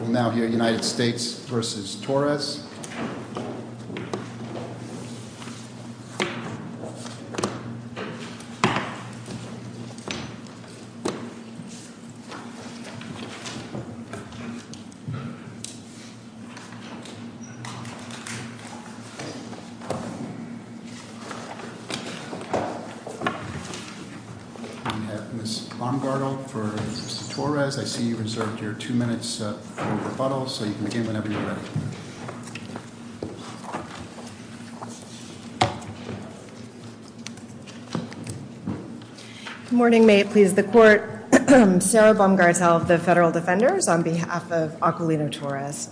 We'll now hear United States v. Torres. We have Ms. Baumgartel for Mr. Torres. I see you reserved your two minutes for rebuttal so you can begin whenever you're ready. Good morning, may it please the court. Sarah Baumgartel of the federal defenders on behalf of Aquilino Torres.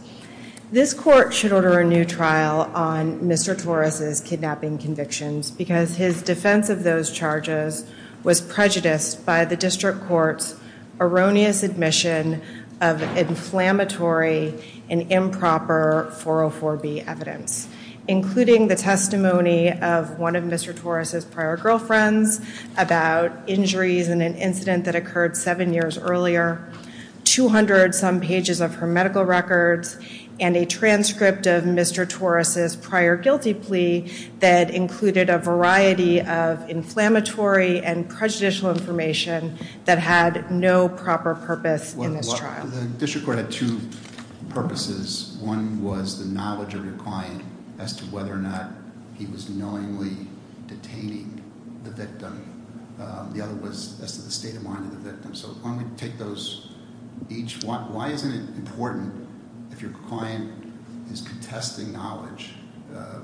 This court should order a new trial on Mr. Torres' kidnapping convictions because his defense of those charges was prejudiced by the district court's erroneous admission of inflammatory and improper 404B evidence, including the testimony of one of Mr. Torres' prior girlfriends about injuries in an incident that occurred seven years earlier, 200 some pages of her medical records, and a transcript of Mr. Torres' prior guilty plea that included a variety of inflammatory and prejudicial information that had no proper purpose in this trial. The district court had two purposes. One was the knowledge of your client as to whether or not he was knowingly detaining the victim. The other was as to the state of mind of the victim. So why don't we take those each? Why isn't it important if your client is contesting knowledge?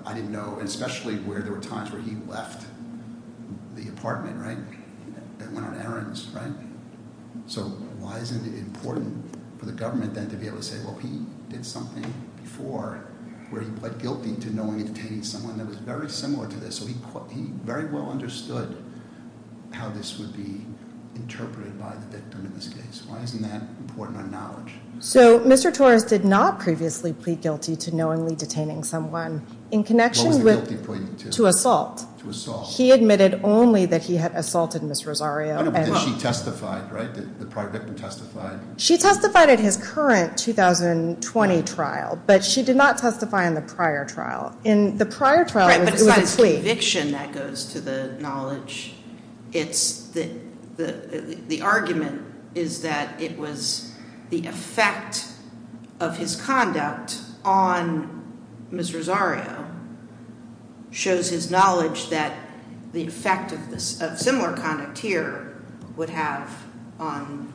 I didn't know, and especially where there were times where he left the apartment, right, and went on errands, right? So why isn't it important for the government then to be able to say, well, he did something before where he pled guilty to knowingly detaining someone that was very similar to this? So he very well understood how this would be interpreted by the victim in this case. Why isn't that important on knowledge? So Mr. Torres did not previously plead guilty to knowingly detaining someone in connection with- What was the guilty plea to? To assault. To assault. He admitted only that he had assaulted Ms. Rosario and- Did she testify, right? Did the prior victim testify? She testified at his current 2020 trial, but she did not testify in the prior trial. In the prior trial, it was a plea. Right, but as far as conviction, that goes to the knowledge. The argument is that it was the effect of his conduct on Ms. Rosario shows his knowledge that the effect of similar conduct here would have on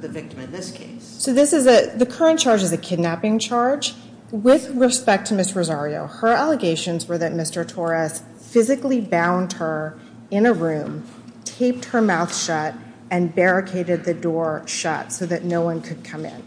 the victim in this case. So the current charge is a kidnapping charge. With respect to Ms. Rosario, her allegations were that Mr. Torres physically bound her in a room, taped her mouth shut, and barricaded the door shut so that no one could come in.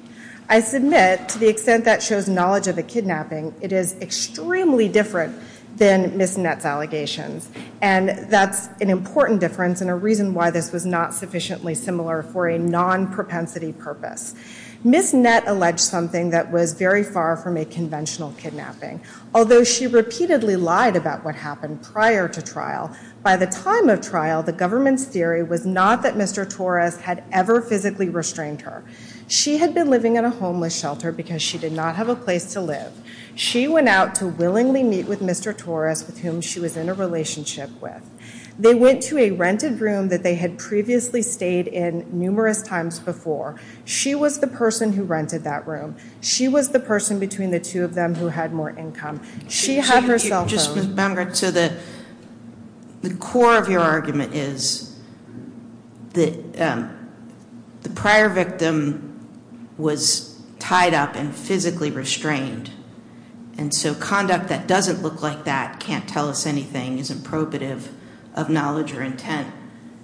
I submit, to the extent that shows knowledge of a kidnapping, it is extremely different than Ms. Nett's allegations. And that's an important difference and a reason why this was not sufficiently similar for a non-propensity purpose. Ms. Nett alleged something that was very far from a conventional kidnapping, although she repeatedly lied about what happened prior to trial. By the time of trial, the government's theory was not that Mr. Torres had ever physically restrained her. She had been living in a homeless shelter because she did not have a place to live. She went out to willingly meet with Mr. Torres, with whom she was in a relationship with. They went to a rented room that they had previously stayed in numerous times before. She was the person who rented that room. She was the person between the two of them who had more income. She had her cell phone. Just remember, so the core of your argument is that the prior victim was tied up and physically restrained. And so conduct that doesn't look like that, can't tell us anything, isn't probative of knowledge or intent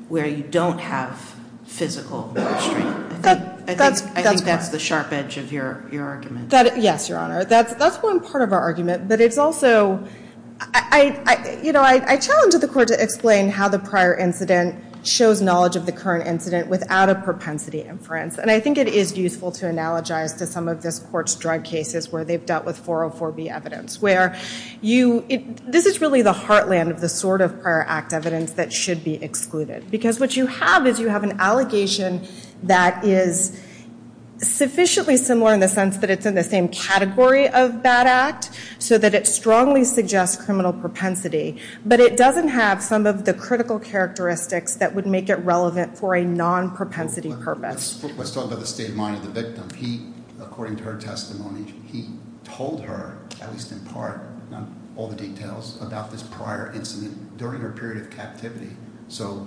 where you don't have physical restraint. I think that's the sharp edge of your argument. Yes, Your Honor. That's one part of our argument. But it's also, you know, I challenge the court to explain how the prior incident shows knowledge of the current incident without a propensity inference. And I think it is useful to analogize to some of this court's drug cases where they've dealt with 404B evidence, where this is really the heartland of the sort of prior act evidence that should be excluded. Because what you have is you have an allegation that is sufficiently similar in the sense that it's in the same category of bad act, so that it strongly suggests criminal propensity. But it doesn't have some of the critical characteristics that would make it relevant for a non-propensity purpose. Let's talk about the state of mind of the victim. According to her testimony, he told her, at least in part, not all the details, about this prior incident during her period of captivity. So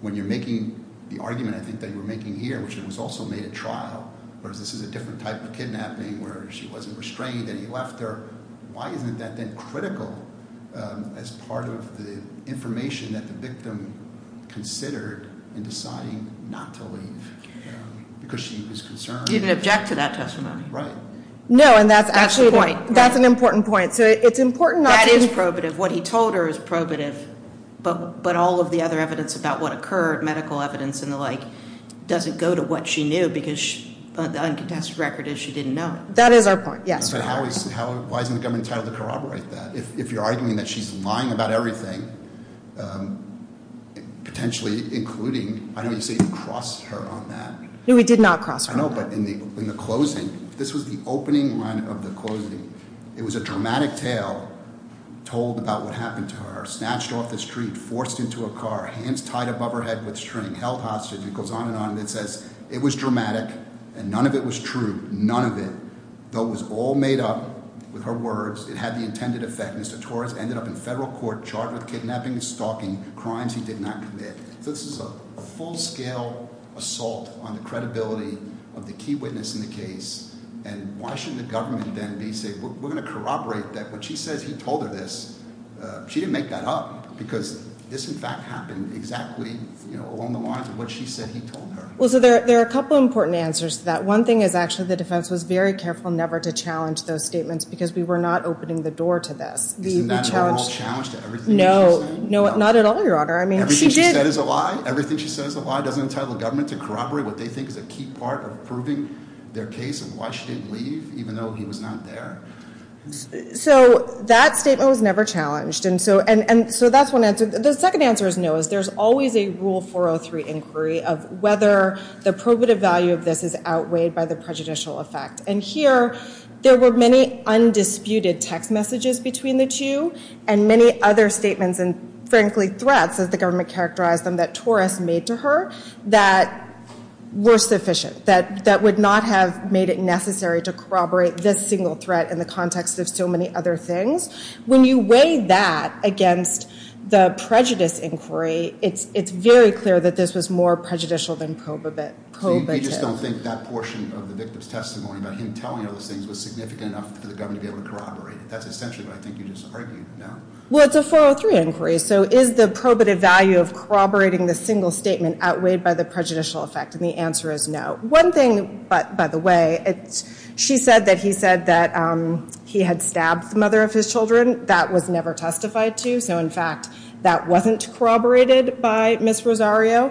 when you're making the argument, I think, that you were making here, which it was also made at trial, whereas this is a different type of kidnapping where she wasn't restrained and he left her, why isn't that then critical as part of the information that the victim considered in deciding not to leave? Because she was concerned- He didn't object to that testimony. No, and that's actually- That's the point. That's an important point. So it's important not to- That is probative. What he told her is probative, but all of the other evidence about what occurred, medical evidence and the like, doesn't go to what she knew because the uncontested record is she didn't know. That is our point, yes. But why isn't the government entitled to corroborate that? If you're arguing that she's lying about everything, potentially including, I know you say you crossed her on that. No, we did not cross her on that. I don't know, but in the closing, this was the opening line of the closing. It was a dramatic tale told about what happened to her, snatched off the street, forced into a car, hands tied above her head with string, held hostage, and it goes on and on. It says it was dramatic and none of it was true, none of it, though it was all made up with her words. It had the intended effect. Mr. Torres ended up in federal court, charged with kidnapping, stalking, crimes he did not commit. So this is a full-scale assault on the credibility of the key witness in the case, and why shouldn't the government then be saying we're going to corroborate that? When she says he told her this, she didn't make that up because this, in fact, happened exactly along the lines of what she said he told her. Well, so there are a couple of important answers to that. One thing is actually the defense was very careful never to challenge those statements because we were not opening the door to this. Isn't that an overall challenge to everything she said? No, not at all, Your Honor. Everything she said is a lie? Everything she said is a lie, doesn't entitle the government to corroborate what they think is a key part of proving their case and why she didn't leave even though he was not there? So that statement was never challenged, and so that's one answer. The second answer is no. There's always a Rule 403 inquiry of whether the probative value of this is outweighed by the prejudicial effect, and here there were many undisputed text messages between the two and many other statements and frankly threats, as the government characterized them, that Torres made to her that were sufficient, that would not have made it necessary to corroborate this single threat in the context of so many other things. When you weigh that against the prejudice inquiry, it's very clear that this was more prejudicial than probative. So you just don't think that portion of the victim's testimony about him telling all those things was significant enough for the government to be able to corroborate it? That's essentially what I think you just argued, no? Well, it's a 403 inquiry, so is the probative value of corroborating the single statement outweighed by the prejudicial effect? And the answer is no. One thing, by the way, she said that he said that he had stabbed the mother of his children. That was never testified to, so in fact that wasn't corroborated by Ms. Rosario.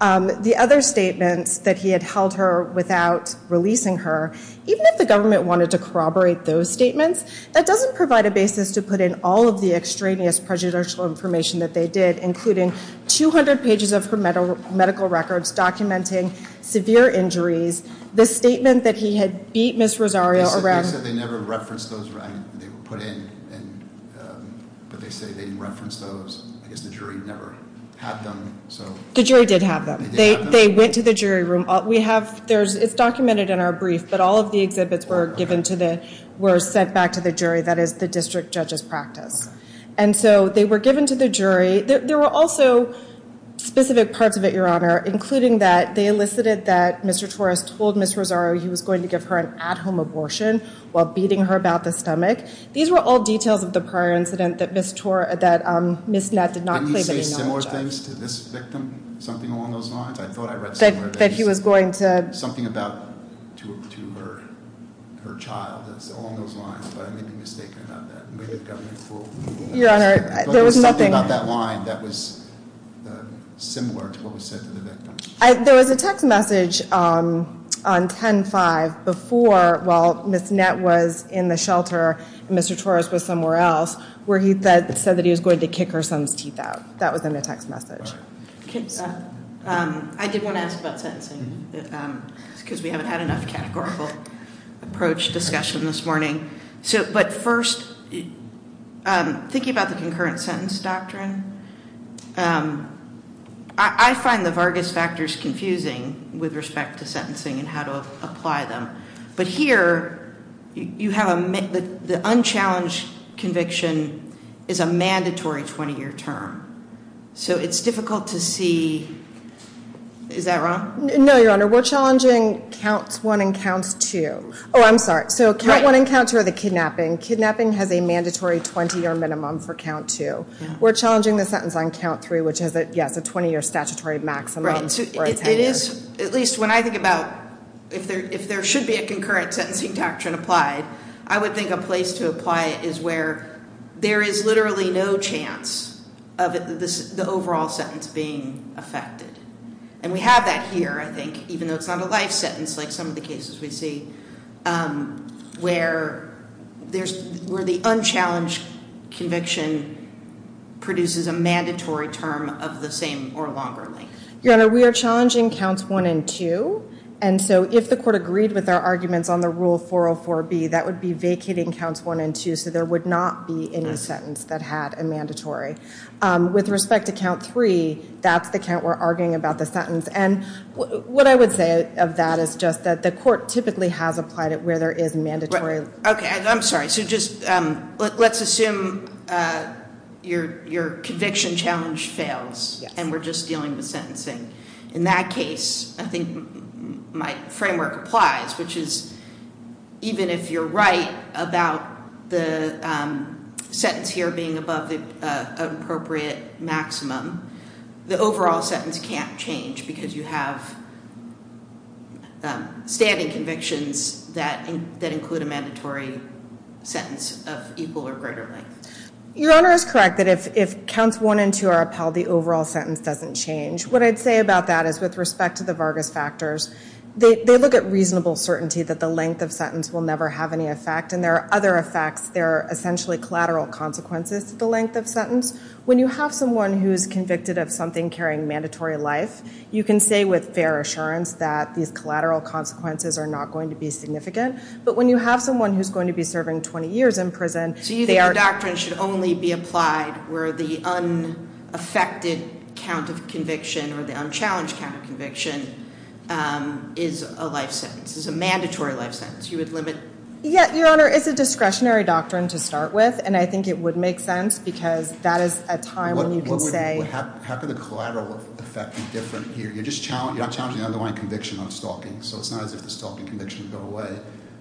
The other statements that he had held her without releasing her, even if the government wanted to corroborate those statements, that doesn't provide a basis to put in all of the extraneous prejudicial information that they did, including 200 pages of her medical records documenting severe injuries. The statement that he had beat Ms. Rosario around- They said they never referenced those. They were put in, but they say they didn't reference those. I guess the jury never had them, so- The jury did have them. They went to the jury room. It's documented in our brief, but all of the exhibits were sent back to the jury. That is the district judge's practice. And so they were given to the jury. There were also specific parts of it, Your Honor, including that they elicited that Mr. Torres told Ms. Rosario he was going to give her an at-home abortion while beating her about the stomach. These were all details of the prior incident that Ms. Nett did not claim any knowledge of. Did he say similar things to this victim, something along those lines? I thought I read somewhere- That he was going to- Something about her child, along those lines, but I may be mistaken about that. It may have gotten me fooled. Your Honor, there was nothing- Something about that line that was similar to what was said to the victim. There was a text message on 10-5 before, while Ms. Nett was in the shelter and Mr. Torres was somewhere else, where he said that he was going to kick her son's teeth out. That was in the text message. I did want to ask about sentencing because we haven't had enough categorical approach discussion this morning. But first, thinking about the concurrent sentence doctrine, I find the Vargas factors confusing with respect to sentencing and how to apply them. But here, the unchallenged conviction is a mandatory 20-year term. So it's difficult to see- Is that wrong? No, Your Honor. We're challenging Count 1 and Count 2. Oh, I'm sorry. So Count 1 and Count 2 are the kidnapping. Kidnapping has a mandatory 20-year minimum for Count 2. We're challenging the sentence on Count 3, which has a 20-year statutory maximum. Right. At least when I think about if there should be a concurrent sentencing doctrine applied, I would think a place to apply it is where there is literally no chance of the overall sentence being affected. And we have that here, I think, even though it's not a life sentence like some of the cases we see, where the unchallenged conviction produces a mandatory term of the same or longer length. Your Honor, we are challenging Counts 1 and 2. And so if the court agreed with our arguments on the Rule 404B, that would be vacating Counts 1 and 2, so there would not be any sentence that had a mandatory. With respect to Count 3, that's the count we're arguing about the sentence. And what I would say of that is just that the court typically has applied it where there is mandatory- Okay, I'm sorry. So just let's assume your conviction challenge fails and we're just dealing with sentencing. In that case, I think my framework applies, which is even if you're right about the sentence here being above the appropriate maximum, the overall sentence can't change because you have standing convictions that include a mandatory sentence of equal or greater length. Your Honor is correct that if Counts 1 and 2 are upheld, the overall sentence doesn't change. What I'd say about that is with respect to the Vargas factors, they look at reasonable certainty that the length of sentence will never have any effect. And there are other effects. There are essentially collateral consequences to the length of sentence. When you have someone who's convicted of something carrying mandatory life, you can say with fair assurance that these collateral consequences are not going to be significant. But when you have someone who's going to be serving 20 years in prison, they are- or the unchallenged count of conviction is a life sentence. It's a mandatory life sentence. You would limit- Yeah, Your Honor, it's a discretionary doctrine to start with, and I think it would make sense because that is a time when you can say- How can the collateral effect be different here? You're not challenging the underlying conviction on stalking, so it's not as if the stalking conviction would go away.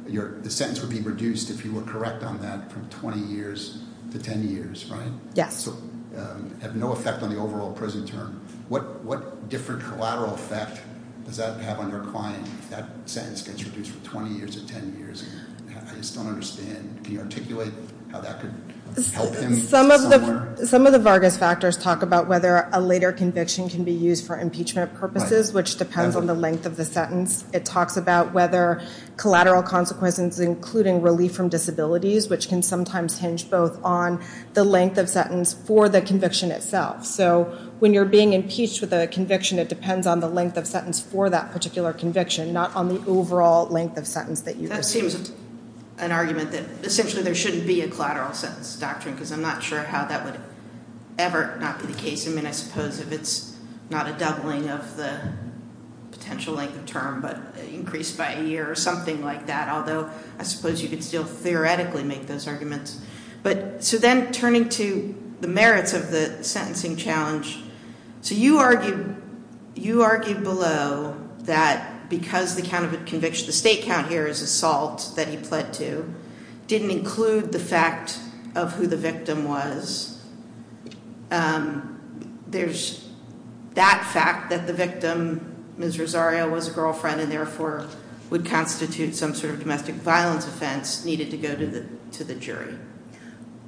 The sentence would be reduced if you were correct on that from 20 years to 10 years, right? Yes. And that would also have no effect on the overall prison term. What different collateral effect does that have on your client if that sentence gets reduced from 20 years to 10 years? I just don't understand. Can you articulate how that could help him somewhere? Some of the Vargas factors talk about whether a later conviction can be used for impeachment purposes, which depends on the length of the sentence. It talks about whether collateral consequences, including relief from disabilities, which can sometimes hinge both on the length of sentence for the conviction itself. So when you're being impeached with a conviction, it depends on the length of sentence for that particular conviction, not on the overall length of sentence that you receive. That seems an argument that essentially there shouldn't be a collateral sentence doctrine because I'm not sure how that would ever not be the case. I mean, I suppose if it's not a doubling of the potential length of term but increased by a year or something like that, although I suppose you could still theoretically make those arguments. But so then turning to the merits of the sentencing challenge, so you argue below that because the state count here is assault that he pled to didn't include the fact of who the victim was. There's that fact that the victim, Ms. Rosario, was a girlfriend and therefore would constitute some sort of domestic violence offense needed to go to the jury.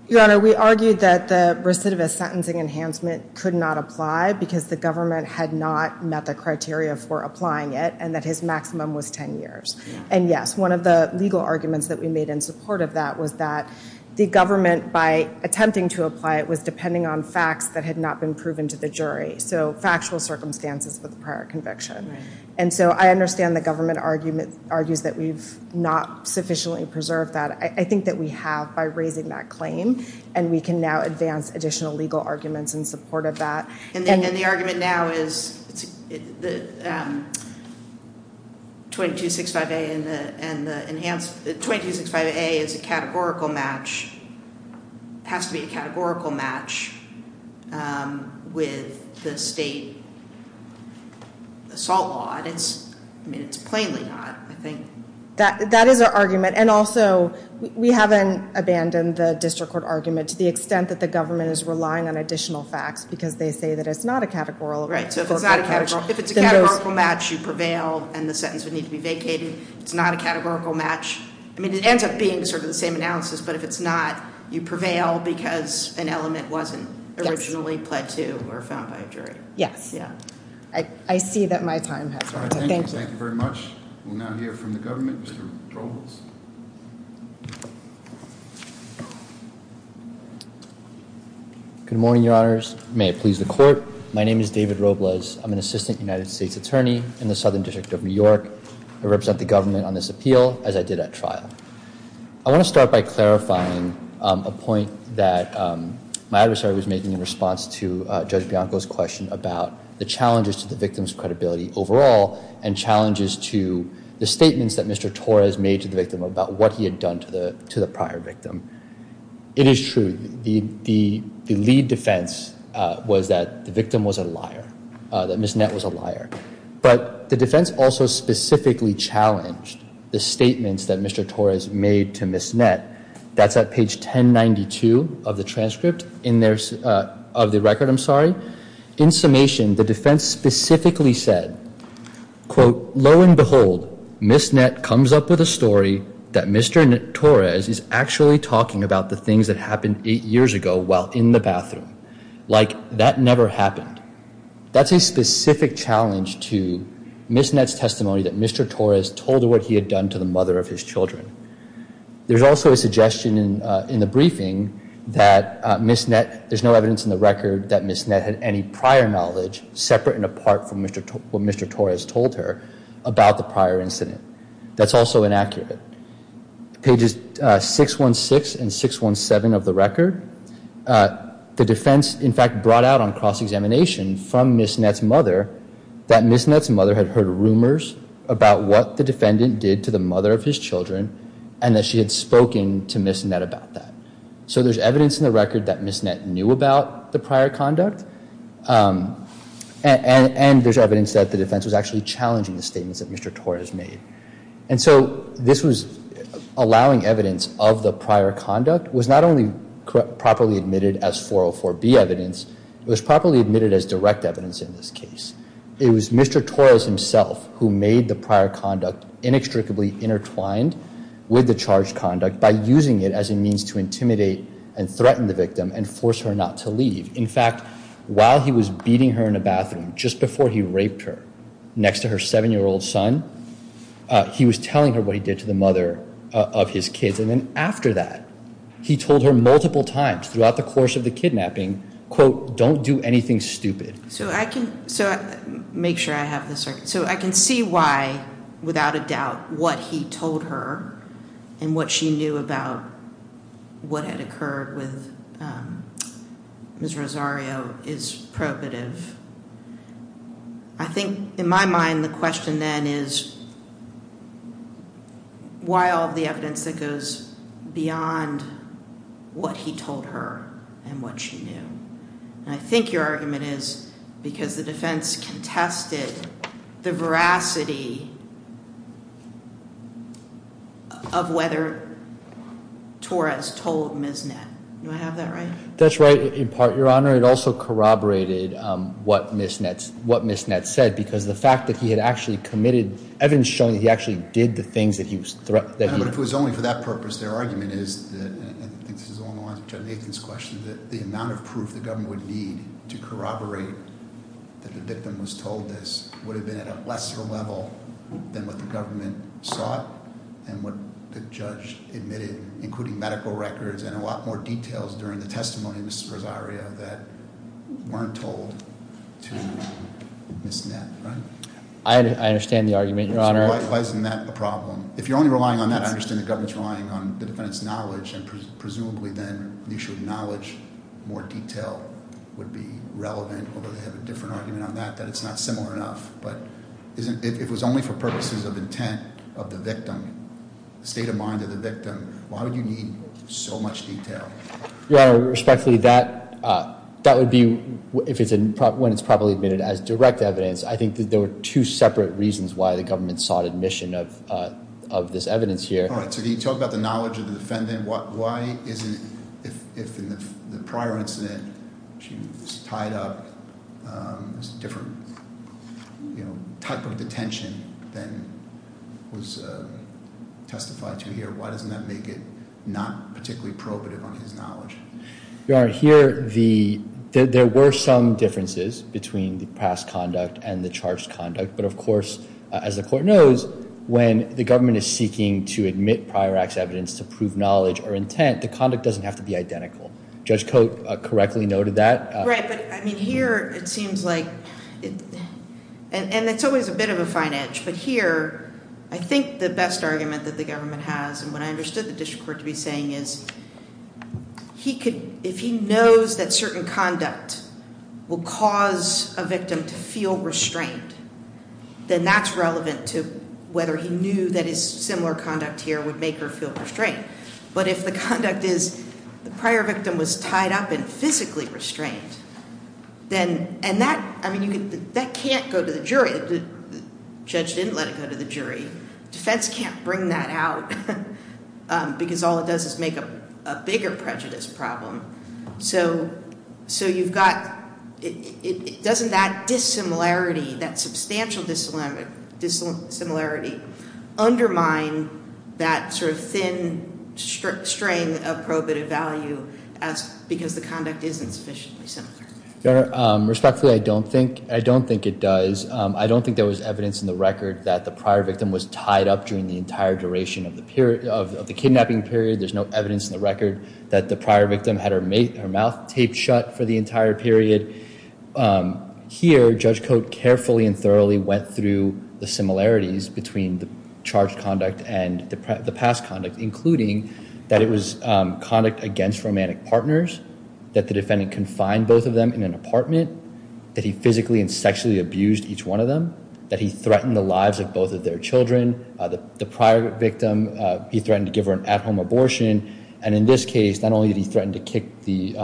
Your Honor, we argued that the recidivist sentencing enhancement could not apply because the government had not met the criteria for applying it and that his maximum was 10 years. And yes, one of the legal arguments that we made in support of that was that the government, by attempting to apply it, was depending on facts that had not been proven to the jury. So factual circumstances for the prior conviction. And so I understand the government argues that we've not sufficiently preserved that. I think that we have by raising that claim and we can now advance additional legal arguments in support of that. And the argument now is 2265A is a categorical match. It has to be a categorical match with the state assault law. I mean, it's plainly not, I think. That is our argument. And also we haven't abandoned the district court argument to the extent that the government is relying on additional facts because they say that it's not a categorical match. If it's a categorical match, you prevail and the sentence would need to be vacated. It's not a categorical match. I mean, it ends up being sort of the same analysis, but if it's not, you prevail because an element wasn't originally pled to or found by a jury. Yes. I see that my time has run out. Thank you. Thank you very much. We'll now hear from the government. Mr. Trohles. Good morning, Your Honors. May it please the court. My name is David Robles. I'm an assistant United States attorney in the Southern District of New York. I represent the government on this appeal as I did at trial. I want to start by clarifying a point that my adversary was making in response to Judge Bianco's question about the challenges to the victim's credibility overall about what he had done to the prior victim. It is true. The lead defense was that the victim was a liar, that Ms. Nett was a liar. But the defense also specifically challenged the statements that Mr. Trohles made to Ms. Nett. That's at page 1092 of the transcript of the record. In summation, the defense specifically said, quote, Lo and behold, Ms. Nett comes up with a story that Mr. Trohles is actually talking about the things that happened eight years ago while in the bathroom. Like, that never happened. That's a specific challenge to Ms. Nett's testimony that Mr. Trohles told her what he had done to the mother of his children. There's also a suggestion in the briefing that Ms. Nett, there's no evidence in the record that Ms. Nett had any prior knowledge, separate and apart from what Mr. Trohles told her about the prior incident. That's also inaccurate. Pages 616 and 617 of the record, the defense, in fact, brought out on cross-examination from Ms. Nett's mother that Ms. Nett's mother had heard rumors about what the defendant did to the mother of his children and that she had spoken to Ms. Nett about that. So there's evidence in the record that Ms. Nett knew about the prior conduct and there's evidence that the defense was actually challenging the statements that Mr. Trohles made. And so this was allowing evidence of the prior conduct was not only properly admitted as 404B evidence, it was properly admitted as direct evidence in this case. It was Mr. Trohles himself who made the prior conduct inextricably intertwined with the charged conduct by using it as a means to intimidate and threaten the victim and force her not to leave. In fact, while he was beating her in the bathroom just before he raped her next to her seven-year-old son, he was telling her what he did to the mother of his kids. And then after that, he told her multiple times throughout the course of the kidnapping, quote, don't do anything stupid. So I can see why, without a doubt, what he told her and what she knew about what had occurred with Ms. Rosario is probative. I think in my mind the question then is why all the evidence that goes beyond what he told her and what she knew. And I think your argument is because the defense contested the veracity of whether Torres told Ms. Nett. Do I have that right? That's right in part, Your Honor. Your Honor, it also corroborated what Ms. Nett said, because the fact that he had actually committed evidence showing that he actually did the things that he was threatening. But if it was only for that purpose, their argument is, and I think this is along the lines of Judge Nathan's question, that the amount of proof the government would need to corroborate that the victim was told this would have been at a lesser level than what the government sought and what the judge admitted, including medical records and a lot more details during the testimony of Ms. Rosario that weren't told to Ms. Nett, right? I understand the argument, Your Honor. Why isn't that a problem? If you're only relying on that, I understand the government's relying on the defendant's knowledge, and presumably then you should acknowledge more detail would be relevant, although they have a different argument on that, that it's not similar enough. But if it was only for purposes of intent of the victim, state of mind of the victim, why would you need so much detail? Your Honor, respectfully, that would be when it's properly admitted as direct evidence. I think that there were two separate reasons why the government sought admission of this evidence here. All right, so can you talk about the knowledge of the defendant? If in the prior incident she was tied up, there's a different type of detention than was testified to here, why doesn't that make it not particularly probative on his knowledge? Your Honor, here there were some differences between the past conduct and the charged conduct, but of course, as the court knows, when the government is seeking to admit prior acts evidence to prove knowledge or intent, the conduct doesn't have to be identical. Judge Cote correctly noted that. Right, but here it seems like, and it's always a bit of a fine edge, but here I think the best argument that the government has, and what I understood the district court to be saying, is if he knows that certain conduct will cause a victim to feel restrained, then that's relevant to whether he knew that his similar conduct here would make her feel restrained. But if the conduct is the prior victim was tied up and physically restrained, then that can't go to the jury. The judge didn't let it go to the jury. Defense can't bring that out because all it does is make a bigger prejudice problem. So you've got, doesn't that dissimilarity, that substantial dissimilarity, undermine that sort of thin string of probative value because the conduct isn't sufficiently similar? Your Honor, respectfully, I don't think it does. I don't think there was evidence in the record that the prior victim was tied up during the entire duration of the kidnapping period. There's no evidence in the record that the prior victim had her mouth taped shut for the entire period. Here, Judge Cote carefully and thoroughly went through the similarities between the charged conduct and the past conduct, including that it was conduct against romantic partners, that the defendant confined both of them in an apartment, that he physically and sexually abused each one of them, that he threatened the lives of both of their children. The prior victim, he threatened to give her an at-home abortion. And in this case, not only did he threaten to kick the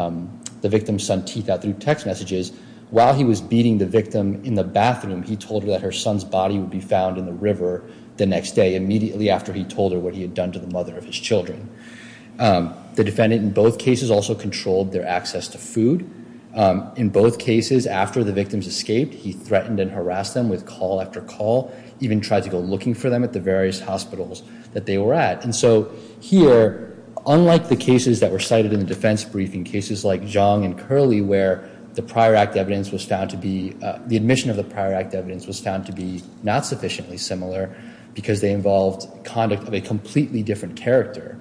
victim's son's teeth out through text messages, while he was beating the victim in the bathroom, he told her that her son's body would be found in the river the next day, immediately after he told her what he had done to the mother of his children. The defendant in both cases also controlled their access to food. In both cases, after the victims escaped, he threatened and harassed them with call after call, even tried to go looking for them at the various hospitals that they were at. And so here, unlike the cases that were cited in the defense briefing, cases like Zhang and Curley where the prior act evidence was found to be, the admission of the prior act evidence was found to be not sufficiently similar because they involved conduct of a completely different character.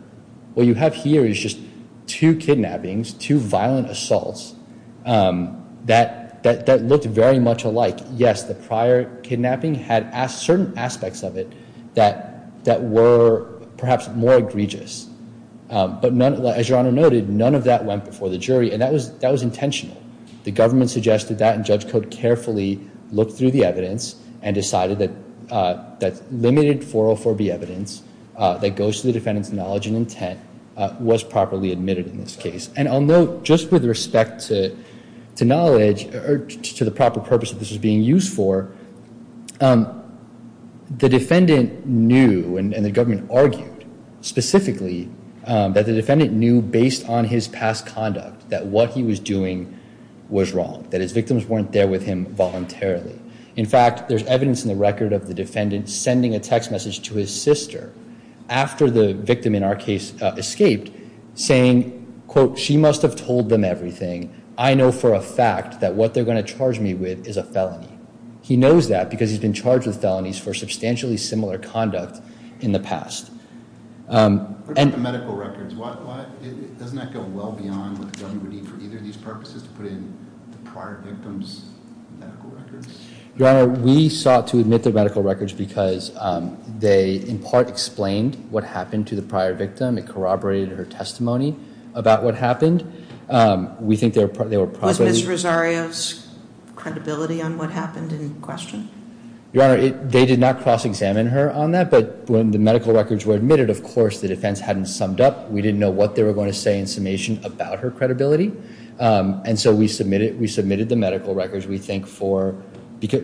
What you have here is just two kidnappings, two violent assaults that looked very much alike. Yes, the prior kidnapping had certain aspects of it that were perhaps more egregious. But as Your Honor noted, none of that went before the jury, and that was intentional. The government suggested that, and Judge Code carefully looked through the evidence and decided that limited 404B evidence that goes to the defendant's knowledge and intent was properly admitted in this case. And I'll note, just with respect to knowledge or to the proper purpose that this was being used for, the defendant knew, and the government argued specifically, that the defendant knew based on his past conduct that what he was doing was wrong, that his victims weren't there with him voluntarily. In fact, there's evidence in the record of the defendant sending a text message to his sister after the victim in our case escaped saying, quote, she must have told them everything. I know for a fact that what they're going to charge me with is a felony. He knows that because he's been charged with felonies for substantially similar conduct in the past. What about the medical records? Doesn't that go well beyond what the government would need for either of these purposes to put in the prior victim's medical records? Your Honor, we sought to admit the medical records because they, in part, explained what happened to the prior victim. It corroborated her testimony about what happened. We think they were probably— Was Ms. Rosario's credibility on what happened in question? Your Honor, they did not cross-examine her on that, but when the medical records were admitted, of course, the defense hadn't summed up. We didn't know what they were going to say in summation about her credibility, and so we submitted the medical records, we think,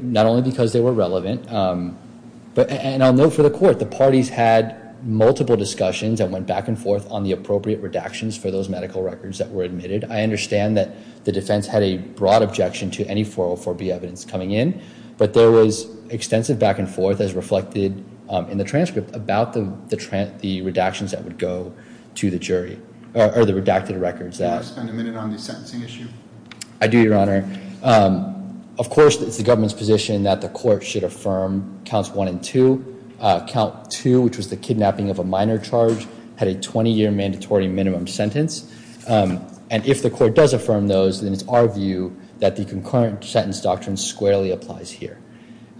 not only because they were relevant. And I'll note for the Court, the parties had multiple discussions and went back and forth on the appropriate redactions for those medical records that were admitted. I understand that the defense had a broad objection to any 404B evidence coming in, but there was extensive back and forth, as reflected in the transcript, about the redactions that would go to the jury, or the redacted records. Can I spend a minute on the sentencing issue? I do, Your Honor. Of course, it's the government's position that the Court should affirm counts one and two. Count two, which was the kidnapping of a minor charge, had a 20-year mandatory minimum sentence. And if the Court does affirm those, then it's our view that the concurrent sentence doctrine squarely applies here.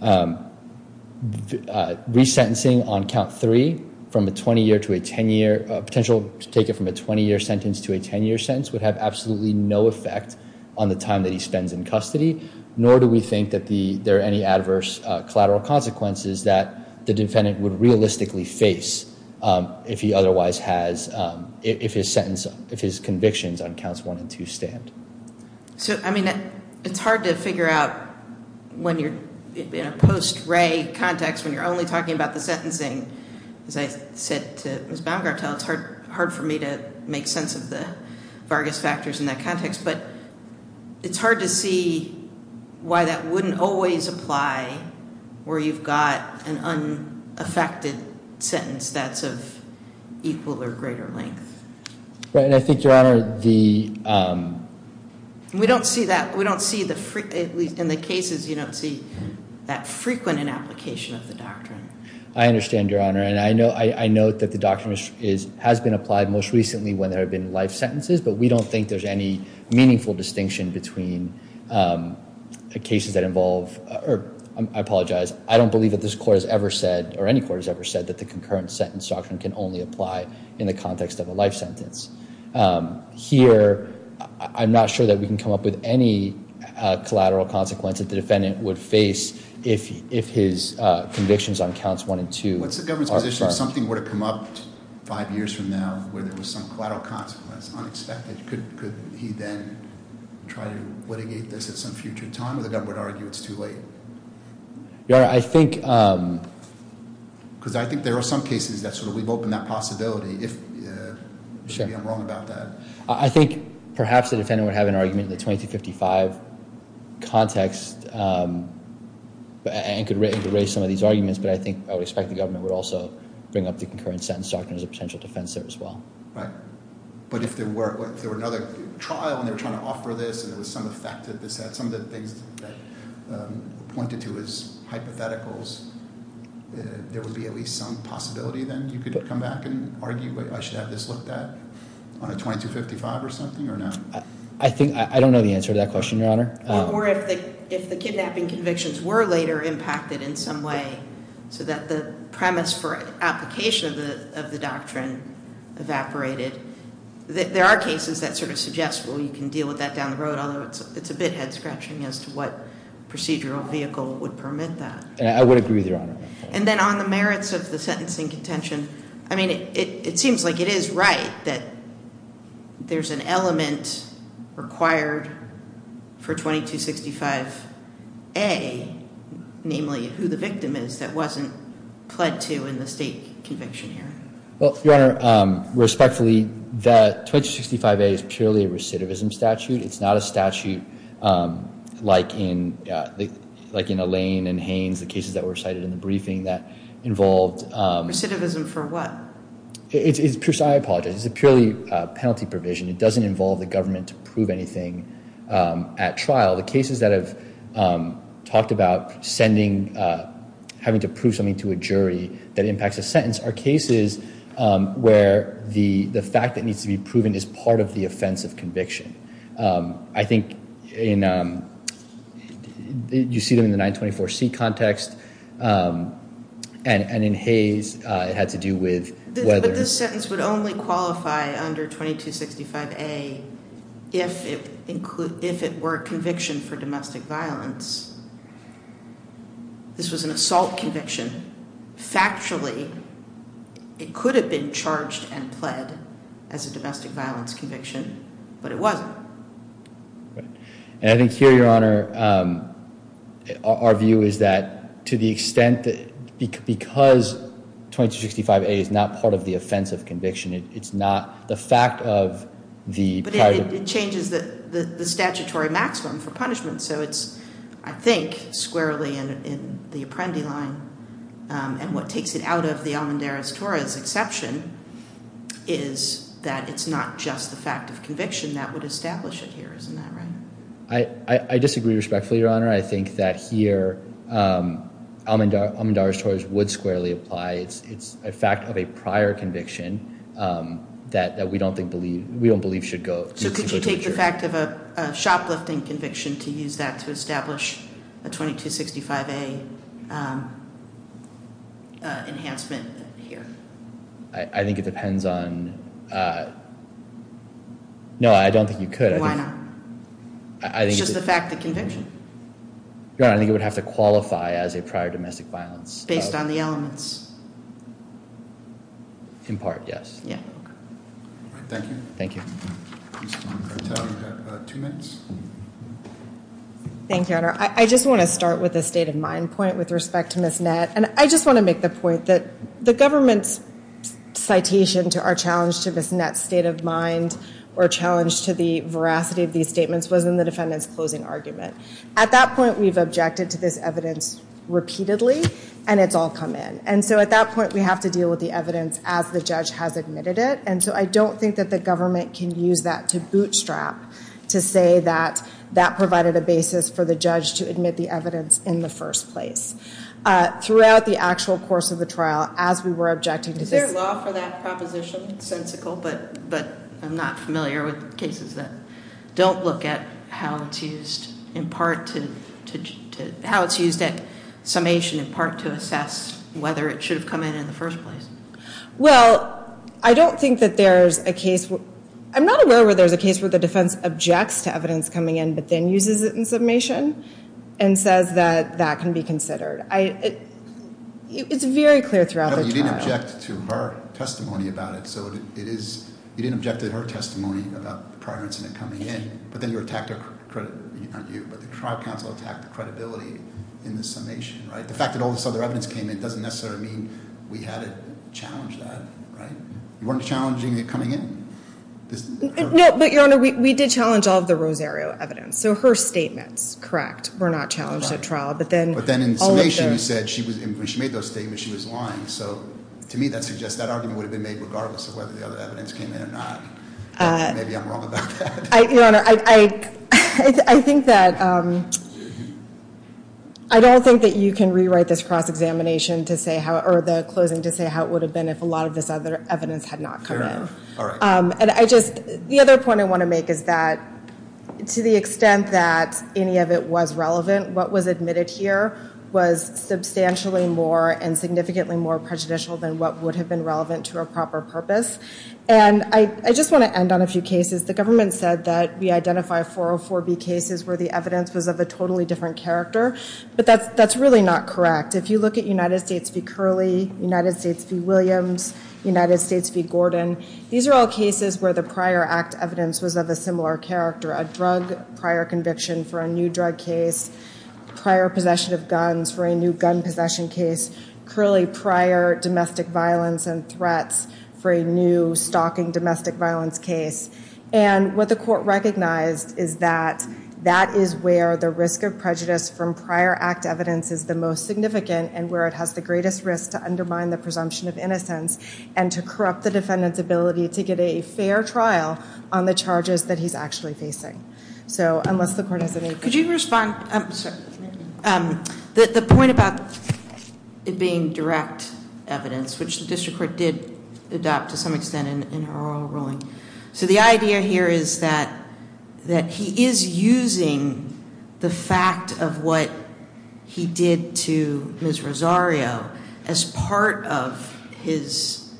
Resentencing on count three, from a 20-year to a 10-year – potential to take it from a 20-year sentence to a 10-year sentence would have absolutely no effect on the time that he spends in custody, nor do we think that there are any adverse collateral consequences that the defendant would realistically face if his convictions on counts one and two stand. So, I mean, it's hard to figure out when you're in a post-Ray context, when you're only talking about the sentencing. As I said to Ms. Baumgartel, it's hard for me to make sense of the Vargas factors in that context. But it's hard to see why that wouldn't always apply where you've got an unaffected sentence that's of equal or greater length. Right, and I think, Your Honor, the – We don't see that – we don't see the – in the cases, you don't see that frequent in application of the doctrine. I understand, Your Honor. And I note that the doctrine has been applied most recently when there have been life sentences, but we don't think there's any meaningful distinction between the cases that involve – or I apologize. I don't believe that this court has ever said, or any court has ever said, that the concurrent sentence doctrine can only apply in the context of a life sentence. Here, I'm not sure that we can come up with any collateral consequence that the defendant would face if his convictions on counts one and two – What's the government's position if something were to come up five years from now where there was some collateral consequence, unexpected, could he then try to litigate this at some future time, or the government would argue it's too late? Your Honor, I think – Because I think there are some cases that sort of we've opened that possibility. Maybe I'm wrong about that. I think perhaps the defendant would have an argument in the 2255 context and could raise some of these arguments, but I think – I would expect the government would also bring up the concurrent sentence doctrine as a potential defense there as well. Right. But if there were another trial and they were trying to offer this and there was some effect that this had, some of the things that pointed to as hypotheticals, there would be at least some possibility then you could come back and argue, wait, I should have this looked at on a 2255 or something or not? I think – I don't know the answer to that question, Your Honor. Or if the kidnapping convictions were later impacted in some way so that the premise for application of the doctrine evaporated. There are cases that sort of suggest, well, you can deal with that down the road, although it's a bit head-scratching as to what procedural vehicle would permit that. I would agree with Your Honor. And then on the merits of the sentencing contention, I mean, it seems like it is right that there's an element required for 2265A, namely who the victim is, that wasn't pled to in the state conviction here. Well, Your Honor, respectfully, the 2265A is purely a recidivism statute. It's not a statute like in Alain and Haines, the cases that were cited in the briefing that involved – I apologize. It's a purely penalty provision. It doesn't involve the government to prove anything at trial. The cases that have talked about sending – having to prove something to a jury that impacts a sentence are cases where the fact that needs to be proven is part of the offense of conviction. I think in – you see them in the 924C context, and in Hayes it had to do with whether – But this sentence would only qualify under 2265A if it were a conviction for domestic violence. This was an assault conviction. Factually, it could have been charged and pled as a domestic violence conviction, but it wasn't. And I think here, Your Honor, our view is that to the extent that – because 2265A is not part of the offense of conviction, it's not the fact of the prior – But it changes the statutory maximum for punishment. So it's, I think, squarely in the Apprendi line, and what takes it out of the Almendares-Torres exception is that it's not just the fact of conviction that would establish it here. Isn't that right? I disagree respectfully, Your Honor. I think that here, Almendares-Torres would squarely apply. It's a fact of a prior conviction that we don't think – we don't believe should go. So could you take the fact of a shoplifting conviction to use that to establish a 2265A enhancement here? I think it depends on – no, I don't think you could. Why not? It's just the fact of conviction. Your Honor, I think it would have to qualify as a prior domestic violence. Based on the elements. In part, yes. Yeah. Thank you. Thank you. Thank you, Your Honor. I just want to start with a state of mind point with respect to Ms. Nett. And I just want to make the point that the government's citation to our challenge to Ms. Nett's state of mind or challenge to the veracity of these statements was in the defendant's closing argument. At that point, we've objected to this evidence repeatedly, and it's all come in. And so at that point, we have to deal with the evidence as the judge has admitted it. And so I don't think that the government can use that to bootstrap to say that that provided a basis for the judge to admit the evidence in the first place. Throughout the actual course of the trial, as we were objecting to this – Is there a law for that proposition? It's sensical, but I'm not familiar with cases that don't look at how it's used in part to – how it's used at summation in part to assess whether it should have come in in the first place. Well, I don't think that there's a case – I'm not aware where there's a case where the defense objects to evidence coming in, but then uses it in summation and says that that can be considered. It's very clear throughout the trial. No, you didn't object to her testimony about it, so it is – you didn't object to her testimony about the prior incident coming in, but then you attacked her – not you, but the trial counsel attacked the credibility in the summation. The fact that all this other evidence came in doesn't necessarily mean we had to challenge that. You weren't challenging it coming in? No, but, Your Honor, we did challenge all of the Rosario evidence. So her statements, correct, were not challenged at trial. But then in summation, you said when she made those statements, she was lying. So to me, that suggests that argument would have been made regardless of whether the other evidence came in or not. Maybe I'm wrong about that. Your Honor, I think that – I don't think that you can rewrite this cross-examination to say how – or the closing to say how it would have been if a lot of this other evidence had not come in. All right. And I just – the other point I want to make is that to the extent that any of it was relevant, what was admitted here was substantially more and significantly more prejudicial than what would have been relevant to a proper purpose. And I just want to end on a few cases. The government said that we identify 404B cases where the evidence was of a totally different character. But that's really not correct. If you look at United States v. Curley, United States v. Williams, United States v. Gordon, these are all cases where the prior act evidence was of a similar character, a drug prior conviction for a new drug case, prior possession of guns for a new gun possession case, Curley prior domestic violence and threats for a new stalking domestic violence case. And what the court recognized is that that is where the risk of prejudice from prior act evidence is the most significant and where it has the greatest risk to undermine the presumption of innocence and to corrupt the defendant's ability to get a fair trial on the charges that he's actually facing. So unless the court has any – Could you respond – the point about it being direct evidence, which the district court did adopt to some extent in her oral ruling. So the idea here is that he is using the fact of what he did to Ms. Rosario as part of his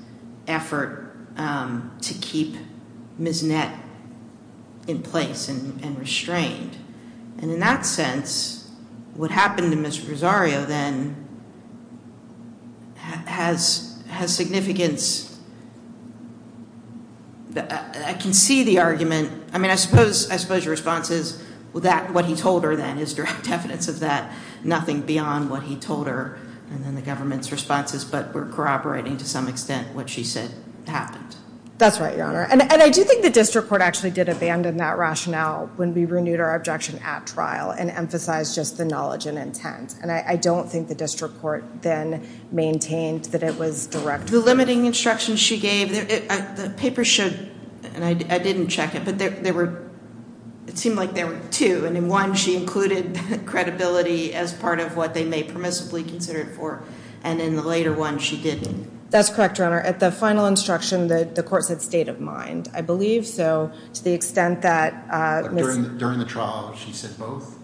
effort to keep Ms. Nett in place and restrained. And in that sense, what happened to Ms. Rosario then has significance. I can see the argument. I mean, I suppose your response is that what he told her then is direct evidence of that, and there's nothing beyond what he told her in the government's responses, but we're corroborating to some extent what she said happened. That's right, Your Honor. And I do think the district court actually did abandon that rationale when we renewed our objection at trial and emphasized just the knowledge and intent. And I don't think the district court then maintained that it was direct evidence. The limiting instructions she gave, the paper showed, and I didn't check it, but it seemed like there were two. And in one, she included credibility as part of what they may permissibly consider it for, and in the later one she didn't. That's correct, Your Honor. At the final instruction, the court said state of mind. I believe so to the extent that Ms. During the trial, she said both?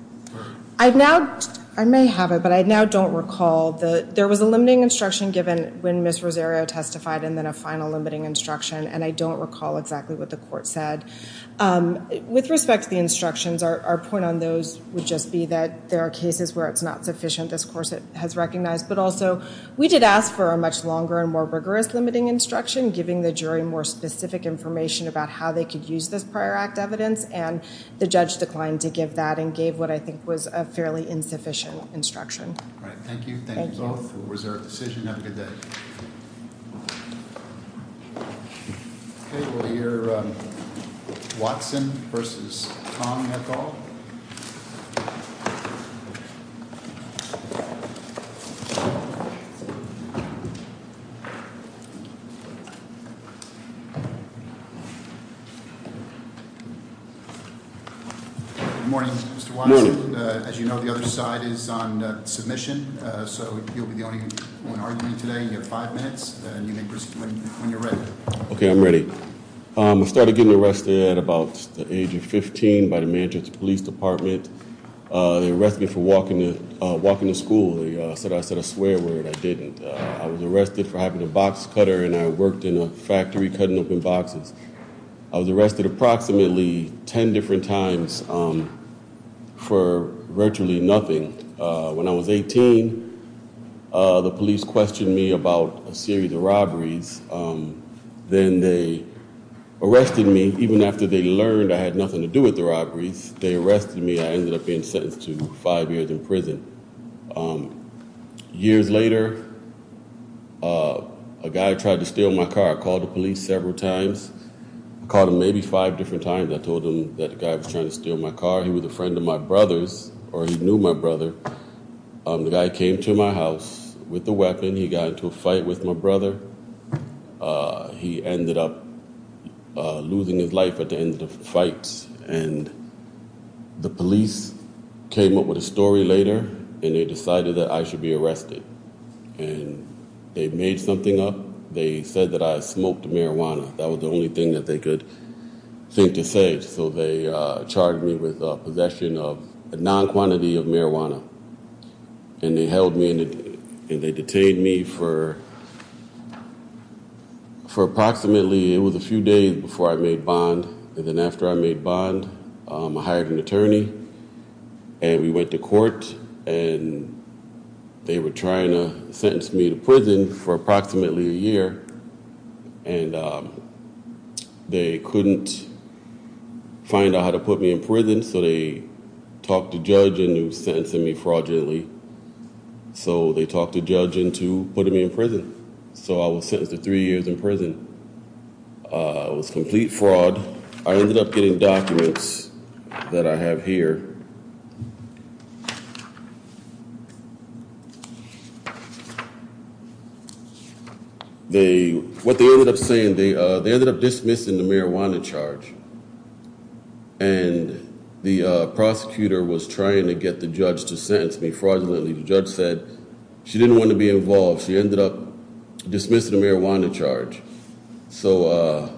I may have it, but I now don't recall. There was a limiting instruction given when Ms. Rosario testified and then a final limiting instruction, and I don't recall exactly what the court said. With respect to the instructions, our point on those would just be that there are cases where it's not sufficient. This course has recognized. But also, we did ask for a much longer and more rigorous limiting instruction, giving the jury more specific information about how they could use this prior act evidence, and the judge declined to give that and gave what I think was a fairly insufficient instruction. All right, thank you. Thank you both for a reserved decision. Have a good day. Thank you. Watson versus. Morning. Mr. Watson, as you know, the other side is on submission, so you'll be the only one arguing today. You have five minutes, and you may proceed when you're ready. Okay, I'm ready. I started getting arrested at about the age of 15 by the Manchester Police Department. They arrested me for walking to school. I said a swear word. I didn't. I was arrested for having a box cutter, and I worked in a factory cutting open boxes. I was arrested approximately ten different times for virtually nothing. When I was 18, the police questioned me about a series of robberies. Then they arrested me. Even after they learned I had nothing to do with the robberies, they arrested me. I ended up being sentenced to five years in prison. Years later, a guy tried to steal my car. I called the police several times. I called him maybe five different times. I told him that the guy was trying to steal my car. He was a friend of my brother's, or he knew my brother. The guy came to my house with a weapon. He got into a fight with my brother. He ended up losing his life at the end of the fight, and the police came up with a story later, and they decided that I should be arrested. They made something up. They said that I smoked marijuana. That was the only thing that they could think to say, so they charged me with possession of a non-quantity of marijuana. They held me, and they detained me for approximately a few days before I made bond. Then after I made bond, I hired an attorney. We went to court, and they were trying to sentence me to prison for approximately a year. They couldn't find out how to put me in prison, so they talked a judge into sentencing me fraudulently. They talked a judge into putting me in prison, so I was sentenced to three years in prison. It was complete fraud. I ended up getting documents that I have here. What they ended up saying, they ended up dismissing the marijuana charge, and the prosecutor was trying to get the judge to sentence me fraudulently. The judge said she didn't want to be involved. She ended up dismissing the marijuana charge. The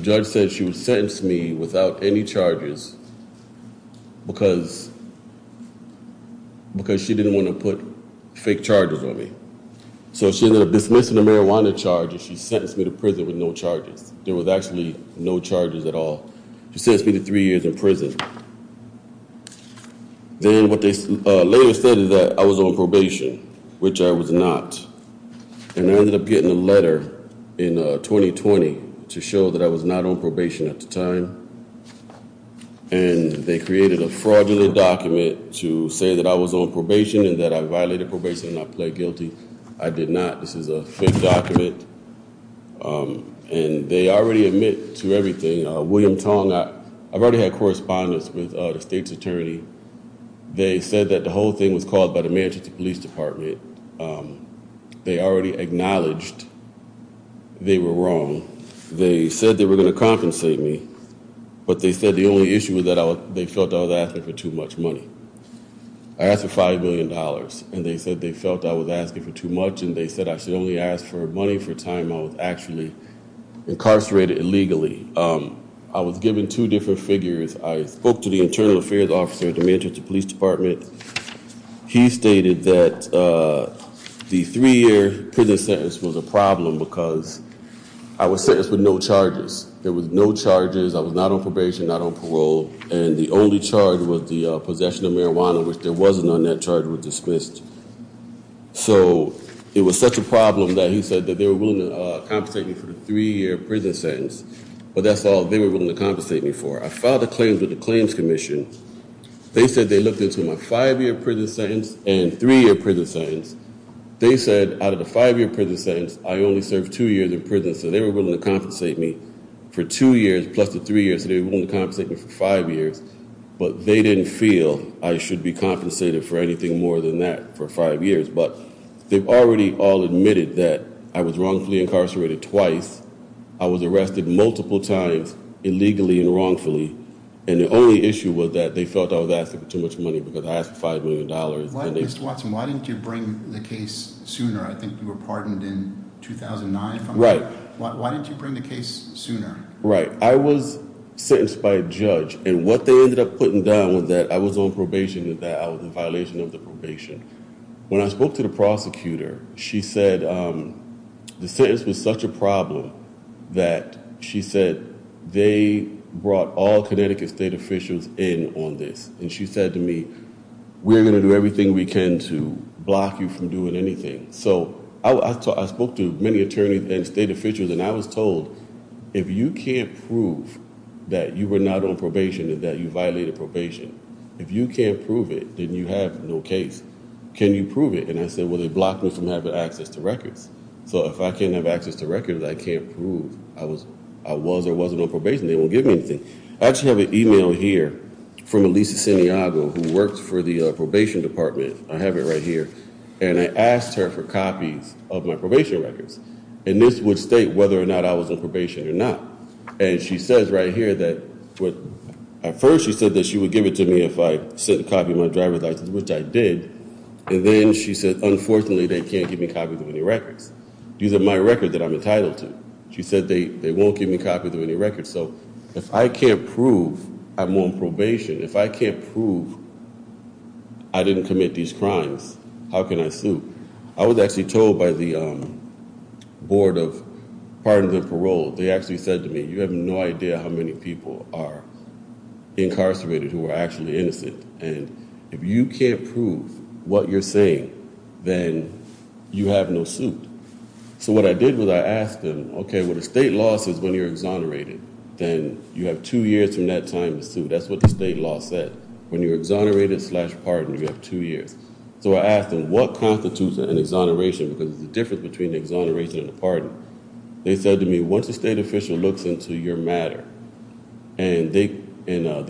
judge said she would sentence me without any charges because she didn't want to put fake charges on me. She ended up dismissing the marijuana charges. She sentenced me to prison with no charges. There was actually no charges at all. She sentenced me to three years in prison. Then what they later said is that I was on probation, which I was not. I ended up getting a letter in 2020 to show that I was not on probation at the time. They created a fraudulent document to say that I was on probation and that I violated probation and I pled guilty. I did not. This is a fake document. They already admit to everything. William Tong, I've already had correspondence with the state's attorney. They said that the whole thing was caused by the Manchester Police Department. They already acknowledged they were wrong. They said they were going to compensate me, but they said the only issue was that they felt I was asking for too much money. I asked for $5 million, and they said they felt I was asking for too much and they said I should only ask for money for time I was actually incarcerated illegally. I was given two different figures. I spoke to the internal affairs officer at the Manchester Police Department. He stated that the three-year prison sentence was a problem because I was sentenced with no charges. There were no charges. I was not on probation, not on parole, and the only charge was the possession of marijuana, which there was none. That charge was dismissed. So it was such a problem that he said that they were willing to compensate me for the three-year prison sentence, but that's all they were willing to compensate me for. I filed a claim with the Claims Commission. They said they looked into my five-year prison sentence and three-year prison sentence. They said out of the five-year prison sentence, I only served two years in prison, so they were willing to compensate me for two years plus the three years, so they were willing to compensate me for five years, but they didn't feel I should be compensated for anything more than that for five years. But they've already all admitted that I was wrongfully incarcerated twice. I was arrested multiple times illegally and wrongfully, and the only issue was that they felt I was asking for too much money because I asked for $5 million. Mr. Watson, why didn't you bring the case sooner? I think you were pardoned in 2009. Right. Why didn't you bring the case sooner? Right. I was sentenced by a judge, and what they ended up putting down was that I was on probation and that I was in violation of the probation. When I spoke to the prosecutor, she said the sentence was such a problem that she said they brought all Connecticut state officials in on this, and she said to me, we're going to do everything we can to block you from doing anything. So I spoke to many attorneys and state officials, and I was told if you can't prove that you were not on probation and that you violated probation, if you can't prove it, then you have no case. Can you prove it? And I said, well, they blocked me from having access to records. So if I can't have access to records, I can't prove I was or wasn't on probation. They won't give me anything. I actually have an e-mail here from Elisa Santiago, who works for the probation department. I have it right here. And I asked her for copies of my probation records. And this would state whether or not I was on probation or not. And she says right here that at first she said that she would give it to me if I sent a copy of my driver's license, which I did, and then she said, unfortunately, they can't give me copies of any records. These are my records that I'm entitled to. She said they won't give me copies of any records. So if I can't prove I'm on probation, if I can't prove I didn't commit these crimes, how can I sue? I was actually told by the board of pardon and parole, they actually said to me, you have no idea how many people are incarcerated who are actually innocent. And if you can't prove what you're saying, then you have no suit. So what I did was I asked them, okay, well, the state law says when you're exonerated, then you have two years from that time to sue. That's what the state law said. When you're exonerated slash pardoned, you have two years. So I asked them, what constitutes an exoneration? Because there's a difference between an exoneration and a pardon. They said to me, once a state official looks into your matter, and they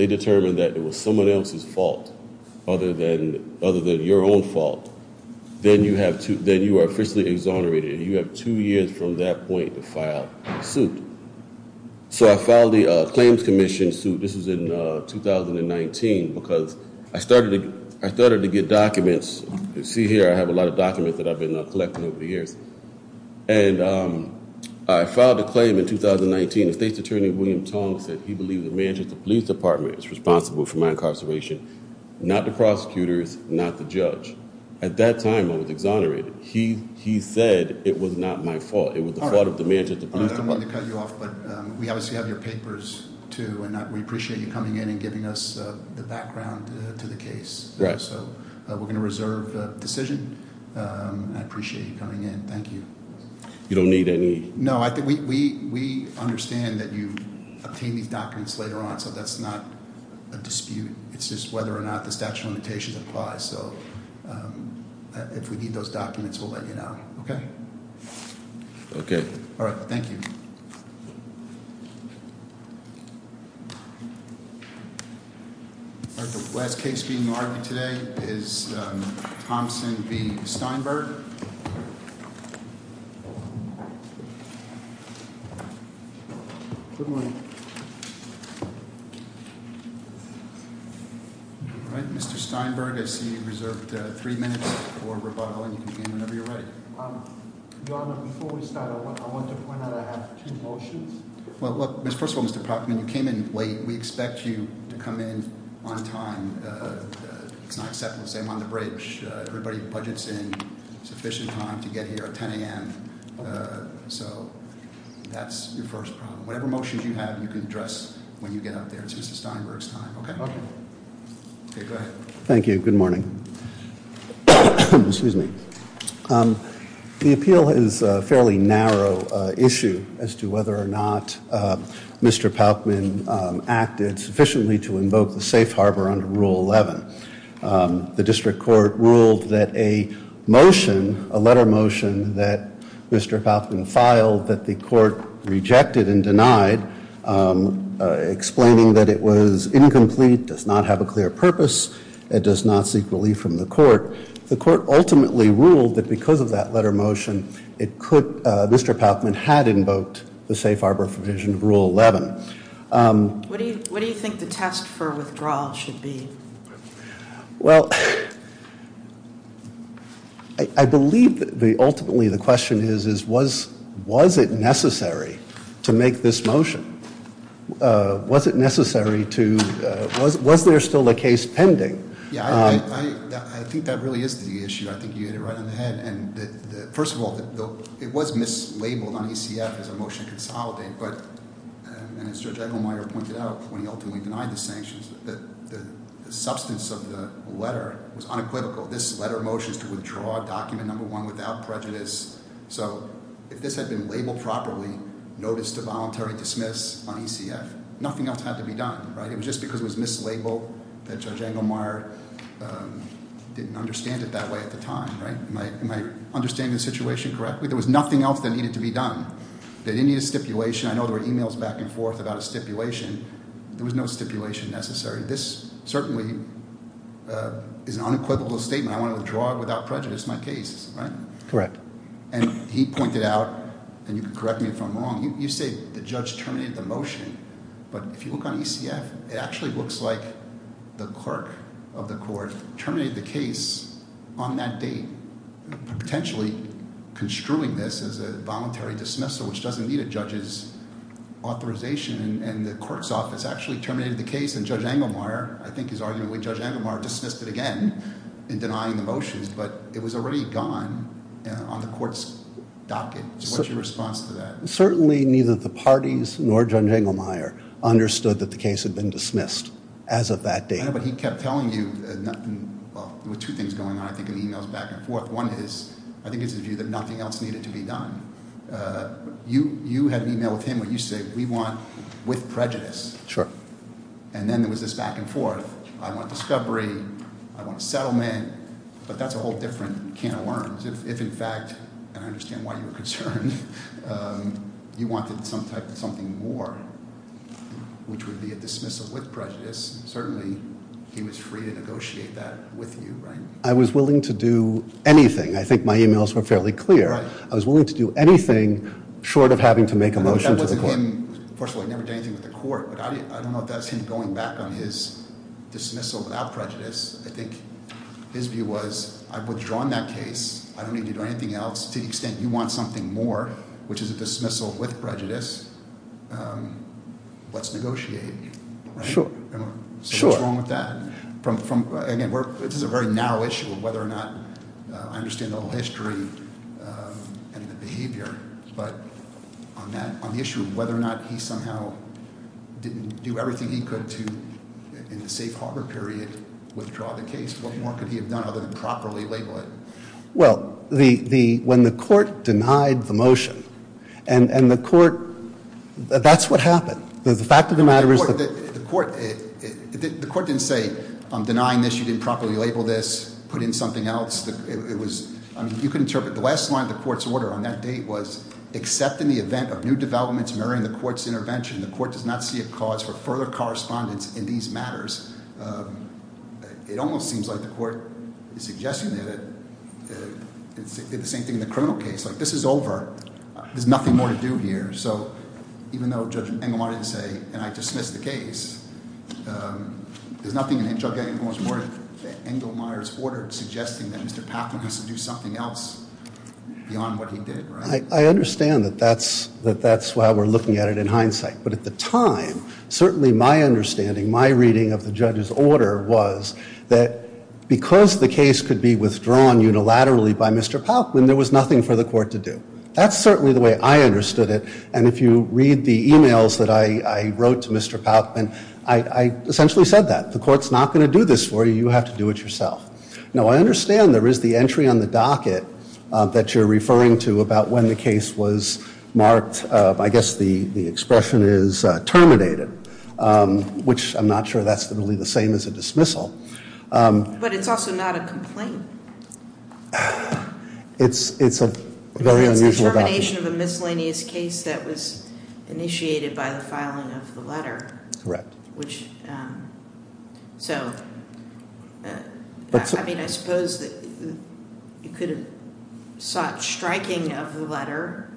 determine that it was someone else's fault other than your own fault, then you are officially exonerated. You have two years from that point to file a suit. So I filed the claims commission suit. This was in 2019 because I started to get documents. See here, I have a lot of documents that I've been collecting over the years. And I filed a claim in 2019. The state's attorney, William Tong, said he believed the manager of the police department is responsible for my incarceration, not the prosecutors, not the judge. At that time, I was exonerated. He said it was not my fault. It was the fault of the manager of the police department. I don't want to cut you off, but we obviously have your papers, too, and we appreciate you coming in and giving us the background to the case. So we're going to reserve the decision. I appreciate you coming in. Thank you. You don't need any? No, we understand that you obtain these documents later on, so that's not a dispute. It's just whether or not the statute of limitations applies. So if we need those documents, we'll let you know. Okay? Okay. All right. Thank you. All right. The last case being argued today is Thompson v. Steinberg. All right. Mr. Steinberg, I see you reserved three minutes for rebuttal. And you can begin whenever you're ready. Your Honor, before we start, I want to point out I have two motions. Well, first of all, Mr. Proctor, when you came in late, we expect you to come in on time. It's not acceptable to say I'm on the bridge. Everybody budgets in sufficient time to get here at 10 a.m. So that's your first problem. Whatever motions you have, you can address when you get up there. It's Mr. Steinberg's time. Okay? Okay. Okay. Go ahead. Thank you. Good morning. Excuse me. The appeal is a fairly narrow issue as to whether or not Mr. Paukman acted sufficiently to invoke the safe harbor under Rule 11. The district court ruled that a motion, a letter motion that Mr. Paukman filed that the court rejected and denied, explaining that it was incomplete, does not have a clear purpose, and does not seek relief from the court. The court ultimately ruled that because of that letter motion, Mr. Paukman had invoked the safe harbor provision of Rule 11. What do you think the test for withdrawal should be? Well, I believe ultimately the question is, was it necessary to make this motion? Was it necessary to, was there still a case pending? Yeah, I think that really is the issue. I think you hit it right on the head. First of all, it was mislabeled on ECF as a motion to consolidate. And as Judge Engelmeyer pointed out when he ultimately denied the sanctions, the substance of the letter was unequivocal. This letter motion is to withdraw document number one without prejudice. So if this had been labeled properly, notice to voluntary dismiss on ECF, nothing else had to be done. It was just because it was mislabeled that Judge Engelmeyer didn't understand it that way at the time. Am I understanding the situation correctly? There was nothing else that needed to be done. They didn't need a stipulation. I know there were emails back and forth about a stipulation. There was no stipulation necessary. This certainly is an unequivocal statement. I want to withdraw without prejudice my case, right? Correct. And he pointed out, and you can correct me if I'm wrong, you say the judge terminated the motion. But if you look on ECF, it actually looks like the clerk of the court terminated the case on that date, potentially construing this as a voluntary dismissal, which doesn't need a judge's authorization. And the court's office actually terminated the case, and Judge Engelmeyer, I think his argument, Judge Engelmeyer dismissed it again in denying the motions. But it was already gone on the court's docket. What's your response to that? Certainly neither the parties nor Judge Engelmeyer understood that the case had been dismissed as of that date. But he kept telling you, well, there were two things going on, I think, in the emails back and forth. One is, I think it's his view that nothing else needed to be done. You had an email with him where you said we want with prejudice. Sure. And then there was this back and forth. I want discovery. I want a settlement. But that's a whole different can of worms. If, in fact, and I understand why you were concerned, you wanted some type of something more, which would be a dismissal with prejudice, certainly he was free to negotiate that with you, right? I was willing to do anything. I think my emails were fairly clear. I was willing to do anything short of having to make a motion to the court. That wasn't him. First of all, he never did anything with the court. But I don't know if that's him going back on his dismissal without prejudice. I think his view was I've withdrawn that case. I don't need to do anything else. To the extent you want something more, which is a dismissal with prejudice, let's negotiate, right? Sure. So what's wrong with that? Again, this is a very narrow issue of whether or not I understand the whole history and the behavior. But on the issue of whether or not he somehow didn't do everything he could to, in the safe harbor period, withdraw the case, what more could he have done other than properly label it? Well, when the court denied the motion, and the court, that's what happened. The fact of the matter is that- The court didn't say, I'm denying this, you didn't properly label this, put in something else. It was, I mean, you can interpret the last line of the court's order on that date was, except in the event of new developments mirroring the court's intervention, the court does not see a cause for further correspondence in these matters. It almost seems like the court is suggesting that it's the same thing in the criminal case. Like, this is over. There's nothing more to do here. So even though Judge Engelmeyer didn't say, and I dismiss the case, there's nothing in Judge Engelmeyer's order suggesting that Mr. Patham has to do something else beyond what he did, right? I understand that that's why we're looking at it in hindsight. But at the time, certainly my understanding, my reading of the judge's order was that because the case could be withdrawn unilaterally by Mr. Palkman, there was nothing for the court to do. That's certainly the way I understood it. And if you read the e-mails that I wrote to Mr. Palkman, I essentially said that. The court's not going to do this for you. You have to do it yourself. Now, I understand there is the entry on the docket that you're referring to about when the case was marked. I guess the expression is terminated, which I'm not sure that's really the same as a dismissal. But it's also not a complaint. It's a very unusual document. It's a termination of a miscellaneous case that was initiated by the filing of the letter. Correct. So, I mean, I suppose you could have sought striking of the letter,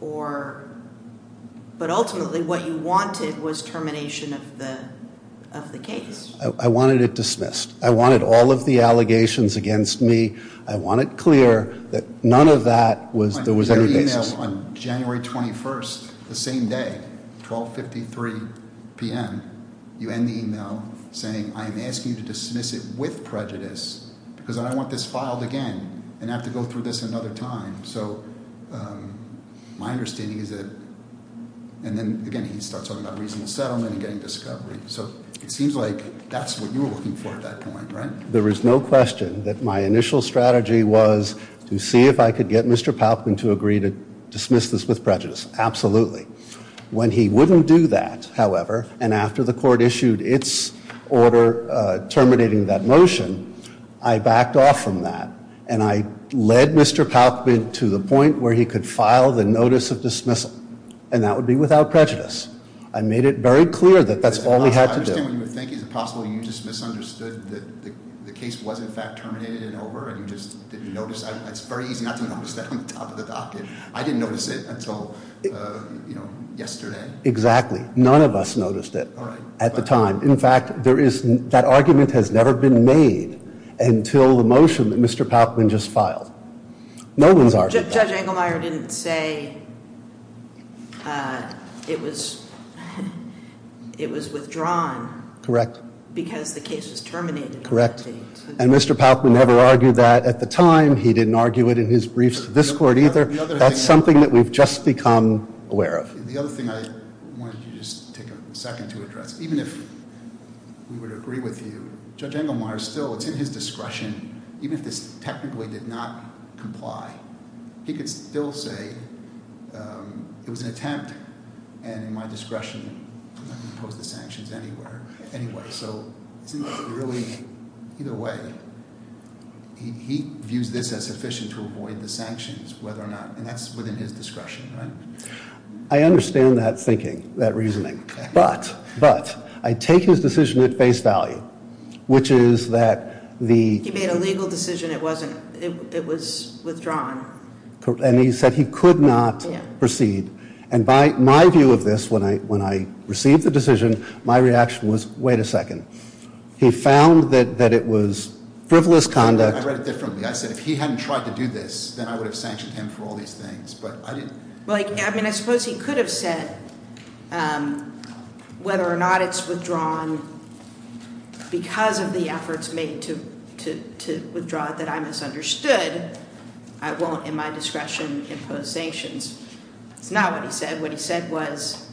but ultimately what you wanted was termination of the case. I wanted it dismissed. I wanted all of the allegations against me. I want it clear that none of that was there was any basis. On January 21st, the same day, 1253 p.m., you end the e-mail saying, I am asking you to dismiss it with prejudice because I don't want this filed again and have to go through this another time. So my understanding is that, and then, again, he starts talking about reasonable settlement and getting discovery. So it seems like that's what you were looking for at that point, right? There is no question that my initial strategy was to see if I could get Mr. Palkman to agree to dismiss this with prejudice. Absolutely. When he wouldn't do that, however, and after the court issued its order terminating that motion, I backed off from that. And I led Mr. Palkman to the point where he could file the notice of dismissal. And that would be without prejudice. Is it possible you just misunderstood that the case was in fact terminated and over and you just didn't notice? It's very easy not to notice that on the top of the docket. I didn't notice it until yesterday. Exactly. None of us noticed it at the time. In fact, that argument has never been made until the motion that Mr. Palkman just filed. No one's argued that. Judge Engelmeyer didn't say it was withdrawn. Correct. Because the case is terminated. Correct. And Mr. Palkman never argued that at the time. He didn't argue it in his briefs to this court either. That's something that we've just become aware of. The other thing I wanted to just take a second to address. Even if we would agree with you, Judge Engelmeyer still, it's in his discretion, even if this technically did not comply, he could still say it was an attempt. And in my discretion, I'm not going to impose the sanctions anywhere, anyway. So isn't that really, either way, he views this as sufficient to avoid the sanctions whether or not, and that's within his discretion, right? But, but, I take his decision at face value, which is that the... He made a legal decision. It wasn't, it was withdrawn. And he said he could not proceed. And by my view of this, when I received the decision, my reaction was, wait a second. He found that it was frivolous conduct. I read it differently. I said if he hadn't tried to do this, then I would have sanctioned him for all these things. I suppose he could have said whether or not it's withdrawn because of the efforts made to withdraw it that I misunderstood. I won't, in my discretion, impose sanctions. That's not what he said. What he said was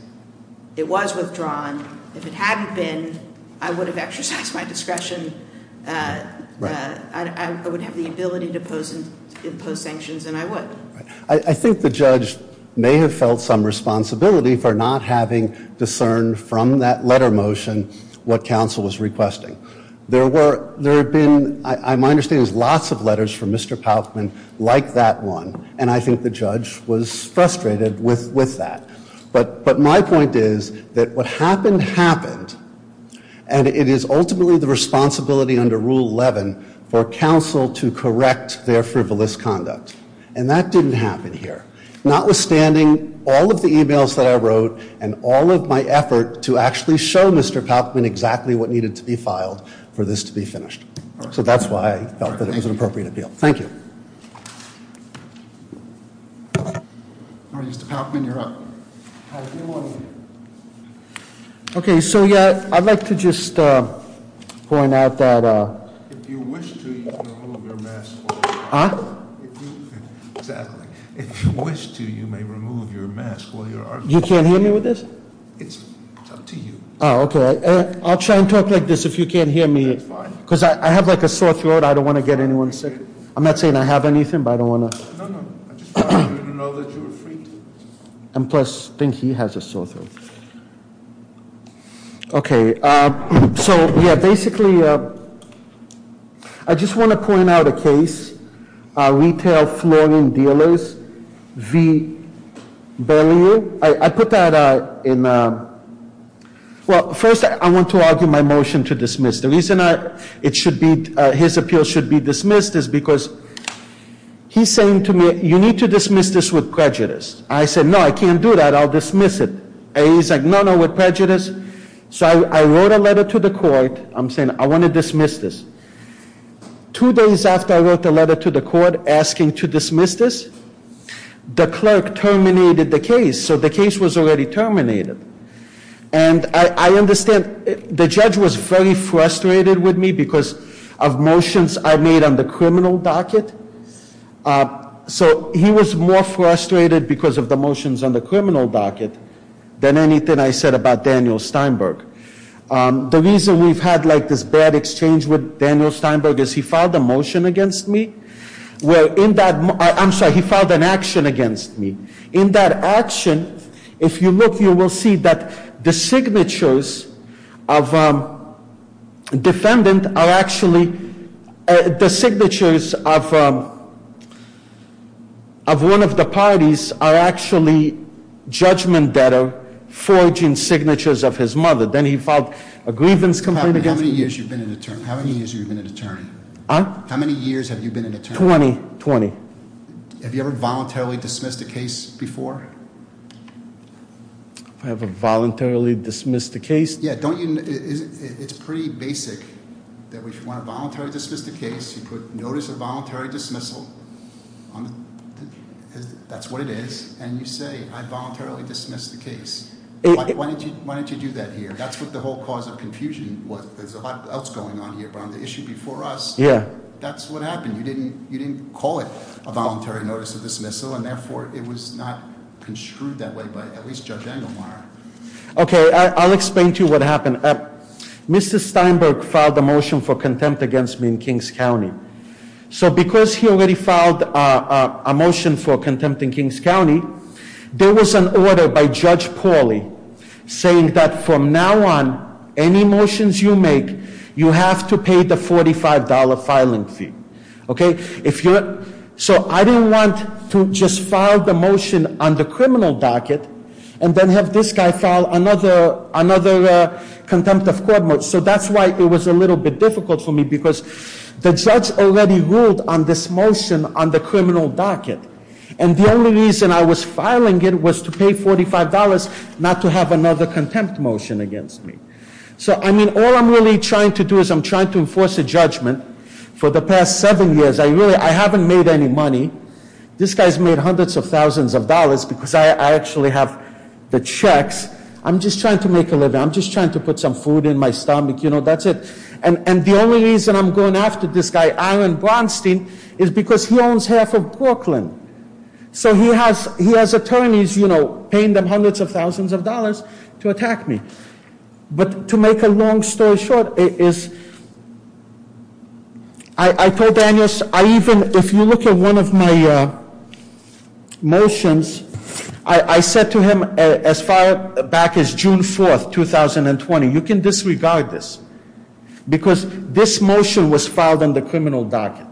it was withdrawn. If it hadn't been, I would have exercised my discretion. I would have the ability to impose sanctions, and I would. I think the judge may have felt some responsibility for not having discerned from that letter motion what counsel was requesting. There were, there had been, I understand there's lots of letters from Mr. Paufman like that one. And I think the judge was frustrated with that. But my point is that what happened, happened. And it is ultimately the responsibility under Rule 11 for counsel to correct their frivolous conduct. And that didn't happen here. Notwithstanding all of the emails that I wrote and all of my effort to actually show Mr. Paufman exactly what needed to be filed for this to be finished. So that's why I felt that it was an appropriate appeal. Thank you. All right, Mr. Paufman, you're up. Hi, good morning. Okay, so yeah, I'd like to just point out that If you wish to, you can remove your mask. Huh? Exactly. If you wish to, you may remove your mask while you're arguing. You can't hear me with this? It's up to you. Oh, okay. I'll try and talk like this if you can't hear me. That's fine. Because I have like a sore throat. I don't want to get anyone sick. I'm not saying I have anything, but I don't want to. No, no. I just want you to know that you're free. And plus, I think he has a sore throat. Okay. So, yeah, basically, I just want to point out a case. Retail Flooring Dealers v. Berlioz. I put that in. Well, first, I want to argue my motion to dismiss. The reason his appeal should be dismissed is because he's saying to me, You need to dismiss this with prejudice. I said, No, I can't do that. I'll dismiss it. He's like, No, no, with prejudice. So I wrote a letter to the court. I'm saying I want to dismiss this. Two days after I wrote the letter to the court asking to dismiss this, the clerk terminated the case. So the case was already terminated. And I understand the judge was very frustrated with me because of motions I made on the criminal docket. So he was more frustrated because of the motions on the criminal docket than anything I said about Daniel Steinberg. The reason we've had, like, this bad exchange with Daniel Steinberg is he filed a motion against me. Well, in that, I'm sorry, he filed an action against me. In that action, if you look, you will see that the signatures of defendant are actually, the signatures of one of the parties are actually judgment that are forging signatures of his mother. Then he filed a grievance complaint against me. How many years have you been an attorney? Huh? How many years have you been an attorney? 20. 20. Have you ever voluntarily dismissed a case before? If I ever voluntarily dismissed a case? Yeah, don't you, it's pretty basic that if you want to voluntarily dismiss the case, you put notice of voluntary dismissal, that's what it is, and you say, I voluntarily dismissed the case. Why didn't you do that here? That's what the whole cause of confusion was. There's a lot else going on here around the issue before us. Yeah. That's what happened. You didn't call it a voluntary notice of dismissal, and therefore it was not construed that way by at least Judge Engelmeyer. Okay, I'll explain to you what happened. Mr. Steinberg filed a motion for contempt against me in Kings County. So because he already filed a motion for contempt in Kings County, there was an order by Judge Pauly saying that from now on, any motions you make, you have to pay the $45 filing fee. So I didn't want to just file the motion on the criminal docket and then have this guy file another contempt of court motion. So that's why it was a little bit difficult for me because the judge already ruled on this motion on the criminal docket, and the only reason I was filing it was to pay $45 not to have another contempt motion against me. So, I mean, all I'm really trying to do is I'm trying to enforce a judgment for the past seven years, I haven't made any money. This guy's made hundreds of thousands of dollars because I actually have the checks. I'm just trying to make a living. I'm just trying to put some food in my stomach, you know, that's it. And the only reason I'm going after this guy, Aaron Braunstein, is because he owns half of Brooklyn. So he has attorneys, you know, paying them hundreds of thousands of dollars to attack me. But to make a long story short, I told Daniel, if you look at one of my motions, I said to him as far back as June 4th, 2020, you can disregard this because this motion was filed on the criminal docket.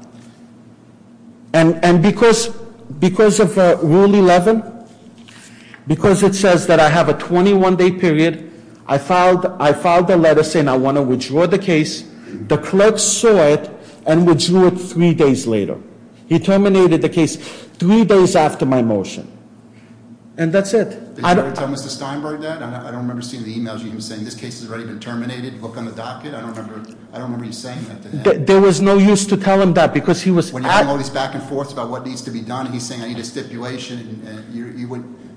And because of Rule 11, because it says that I have a 21-day period, I filed a letter saying I want to withdraw the case. The clerk saw it and withdrew it three days later. He terminated the case three days after my motion. And that's it. Did you ever tell Mr. Steinberg that? I don't remember seeing the e-mails you were saying, this case has already been terminated, book on the docket. I don't remember you saying that to him. There was no use to tell him that because he was- When you have all these back and forths about what needs to be done, he's saying I need a stipulation.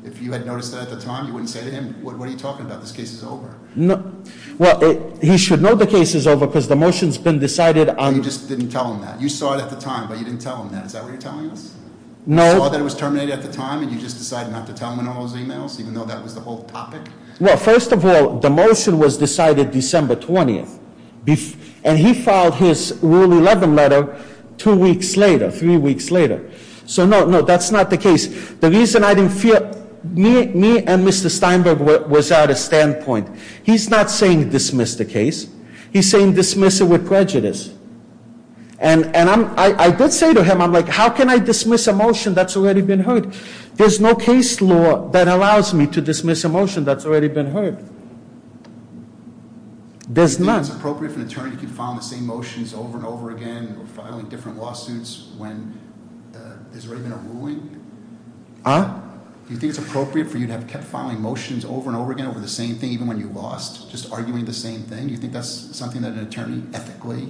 If you had noticed that at the time, you wouldn't say to him, what are you talking about? This case is over. Well, he should know the case is over because the motion's been decided on- You just didn't tell him that. You saw it at the time, but you didn't tell him that. Is that what you're telling us? No. You saw that it was terminated at the time, and you just decided not to tell him in all those e-mails, even though that was the whole topic? Well, first of all, the motion was decided December 20th. And he filed his Rule 11 letter two weeks later, three weeks later. So, no, no, that's not the case. The reason I didn't feel- Me and Mr. Steinberg was at a standpoint. He's not saying dismiss the case. He's saying dismiss it with prejudice. And I did say to him, I'm like, how can I dismiss a motion that's already been heard? There's no case law that allows me to dismiss a motion that's already been heard. There's none. Do you think it's appropriate for an attorney to file the same motions over and over again, or filing different lawsuits when there's already been a ruling? Huh? Do you think it's appropriate for you to have kept filing motions over and over again over the same thing, even when you lost, just arguing the same thing? Do you think that's something that an attorney, ethically,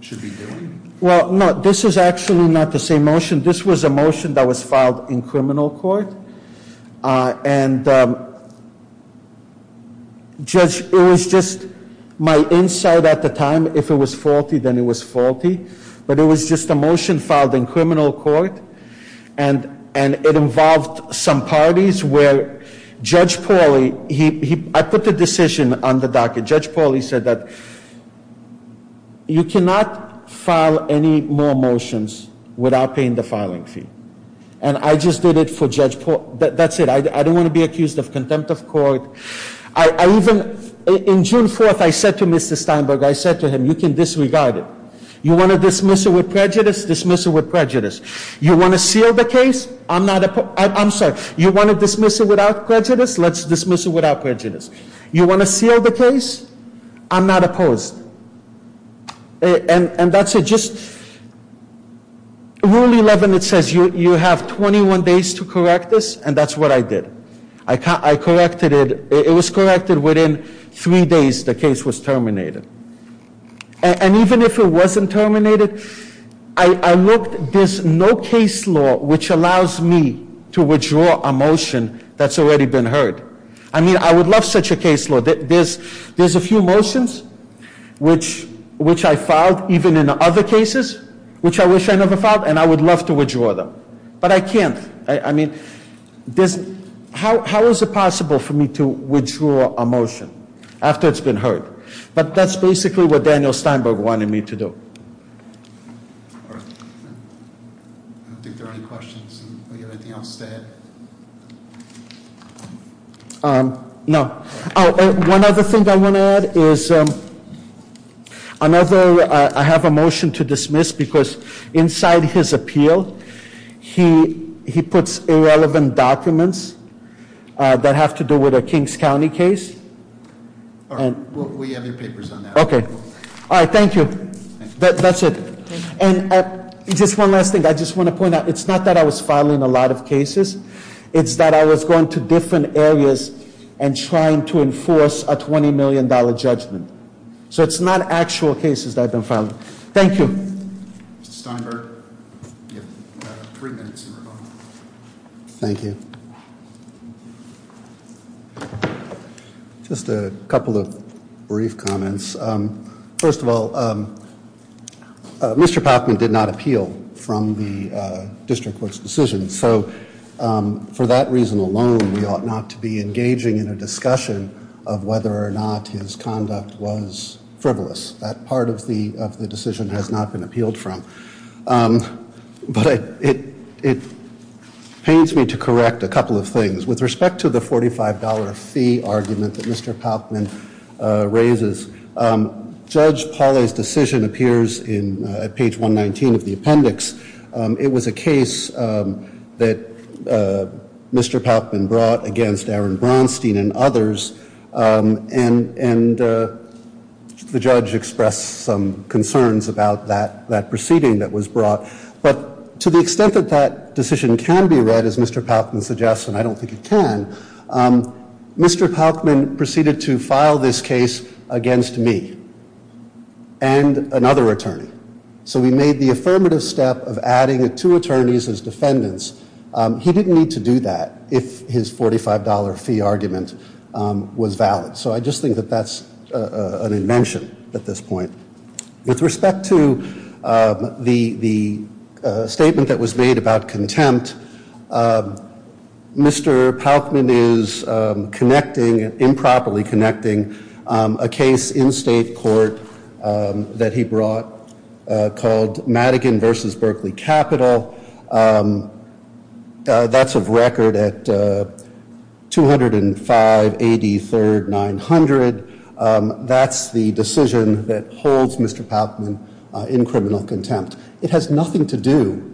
should be doing? Well, no, this is actually not the same motion. This was a motion that was filed in criminal court. And, Judge, it was just my insight at the time. If it was faulty, then it was faulty. But it was just a motion filed in criminal court. And it involved some parties where Judge Pauly- I put the decision on the docket. Judge Pauly said that you cannot file any more motions without paying the filing fee. And I just did it for Judge Pauly. That's it. I don't want to be accused of contempt of court. I even- In June 4th, I said to Mr. Steinberg, I said to him, you can disregard it. You want to dismiss it with prejudice? Dismiss it with prejudice. You want to seal the case? I'm not- I'm sorry. You want to dismiss it without prejudice? Let's dismiss it without prejudice. You want to seal the case? I'm not opposed. And that's it. Just- You have 21 days to correct this. And that's what I did. I corrected it. It was corrected within three days the case was terminated. And even if it wasn't terminated, I looked. There's no case law which allows me to withdraw a motion that's already been heard. I mean, I would love such a case law. There's a few motions which I filed, even in other cases, which I wish I never filed. And I would love to withdraw them. But I can't. I mean, how is it possible for me to withdraw a motion after it's been heard? But that's basically what Daniel Steinberg wanted me to do. I don't think there are any questions. Do you have anything else to add? No. One other thing I want to add is another- I have a motion to dismiss because inside his appeal, he puts irrelevant documents that have to do with a Kings County case. We have your papers on that. Okay. All right. Thank you. That's it. And just one last thing. I just want to point out. It's not that I was filing a lot of cases. It's that I was going to different areas and trying to enforce a $20 million judgment. So it's not actual cases that I've been filing. Thank you. Mr. Steinberg. You have three minutes in rebuttal. Thank you. Just a couple of brief comments. First of all, Mr. Pacman did not appeal from the district court's decision. So for that reason alone, we ought not to be engaging in a discussion of whether or not his conduct was frivolous. That part of the decision has not been appealed from. But it pains me to correct a couple of things. With respect to the $45 fee argument that Mr. Pacman raises, Judge Pauley's decision appears in page 119 of the appendix. It was a case that Mr. Pacman brought against Aaron Braunstein and others. And the judge expressed some concerns about that proceeding that was brought. But to the extent that that decision can be read, as Mr. Pacman suggests, and I don't think it can, Mr. Pacman proceeded to file this case against me and another attorney. So we made the affirmative step of adding two attorneys as defendants. He didn't need to do that if his $45 fee argument was valid. So I just think that that's an invention at this point. With respect to the statement that was made about contempt, Mr. Pacman is connecting, improperly connecting, a case in state court that he brought called Madigan v. Berkeley Capital. That's a record at 205 AD 3rd 900. That's the decision that holds Mr. Pacman in criminal contempt. It has nothing to do.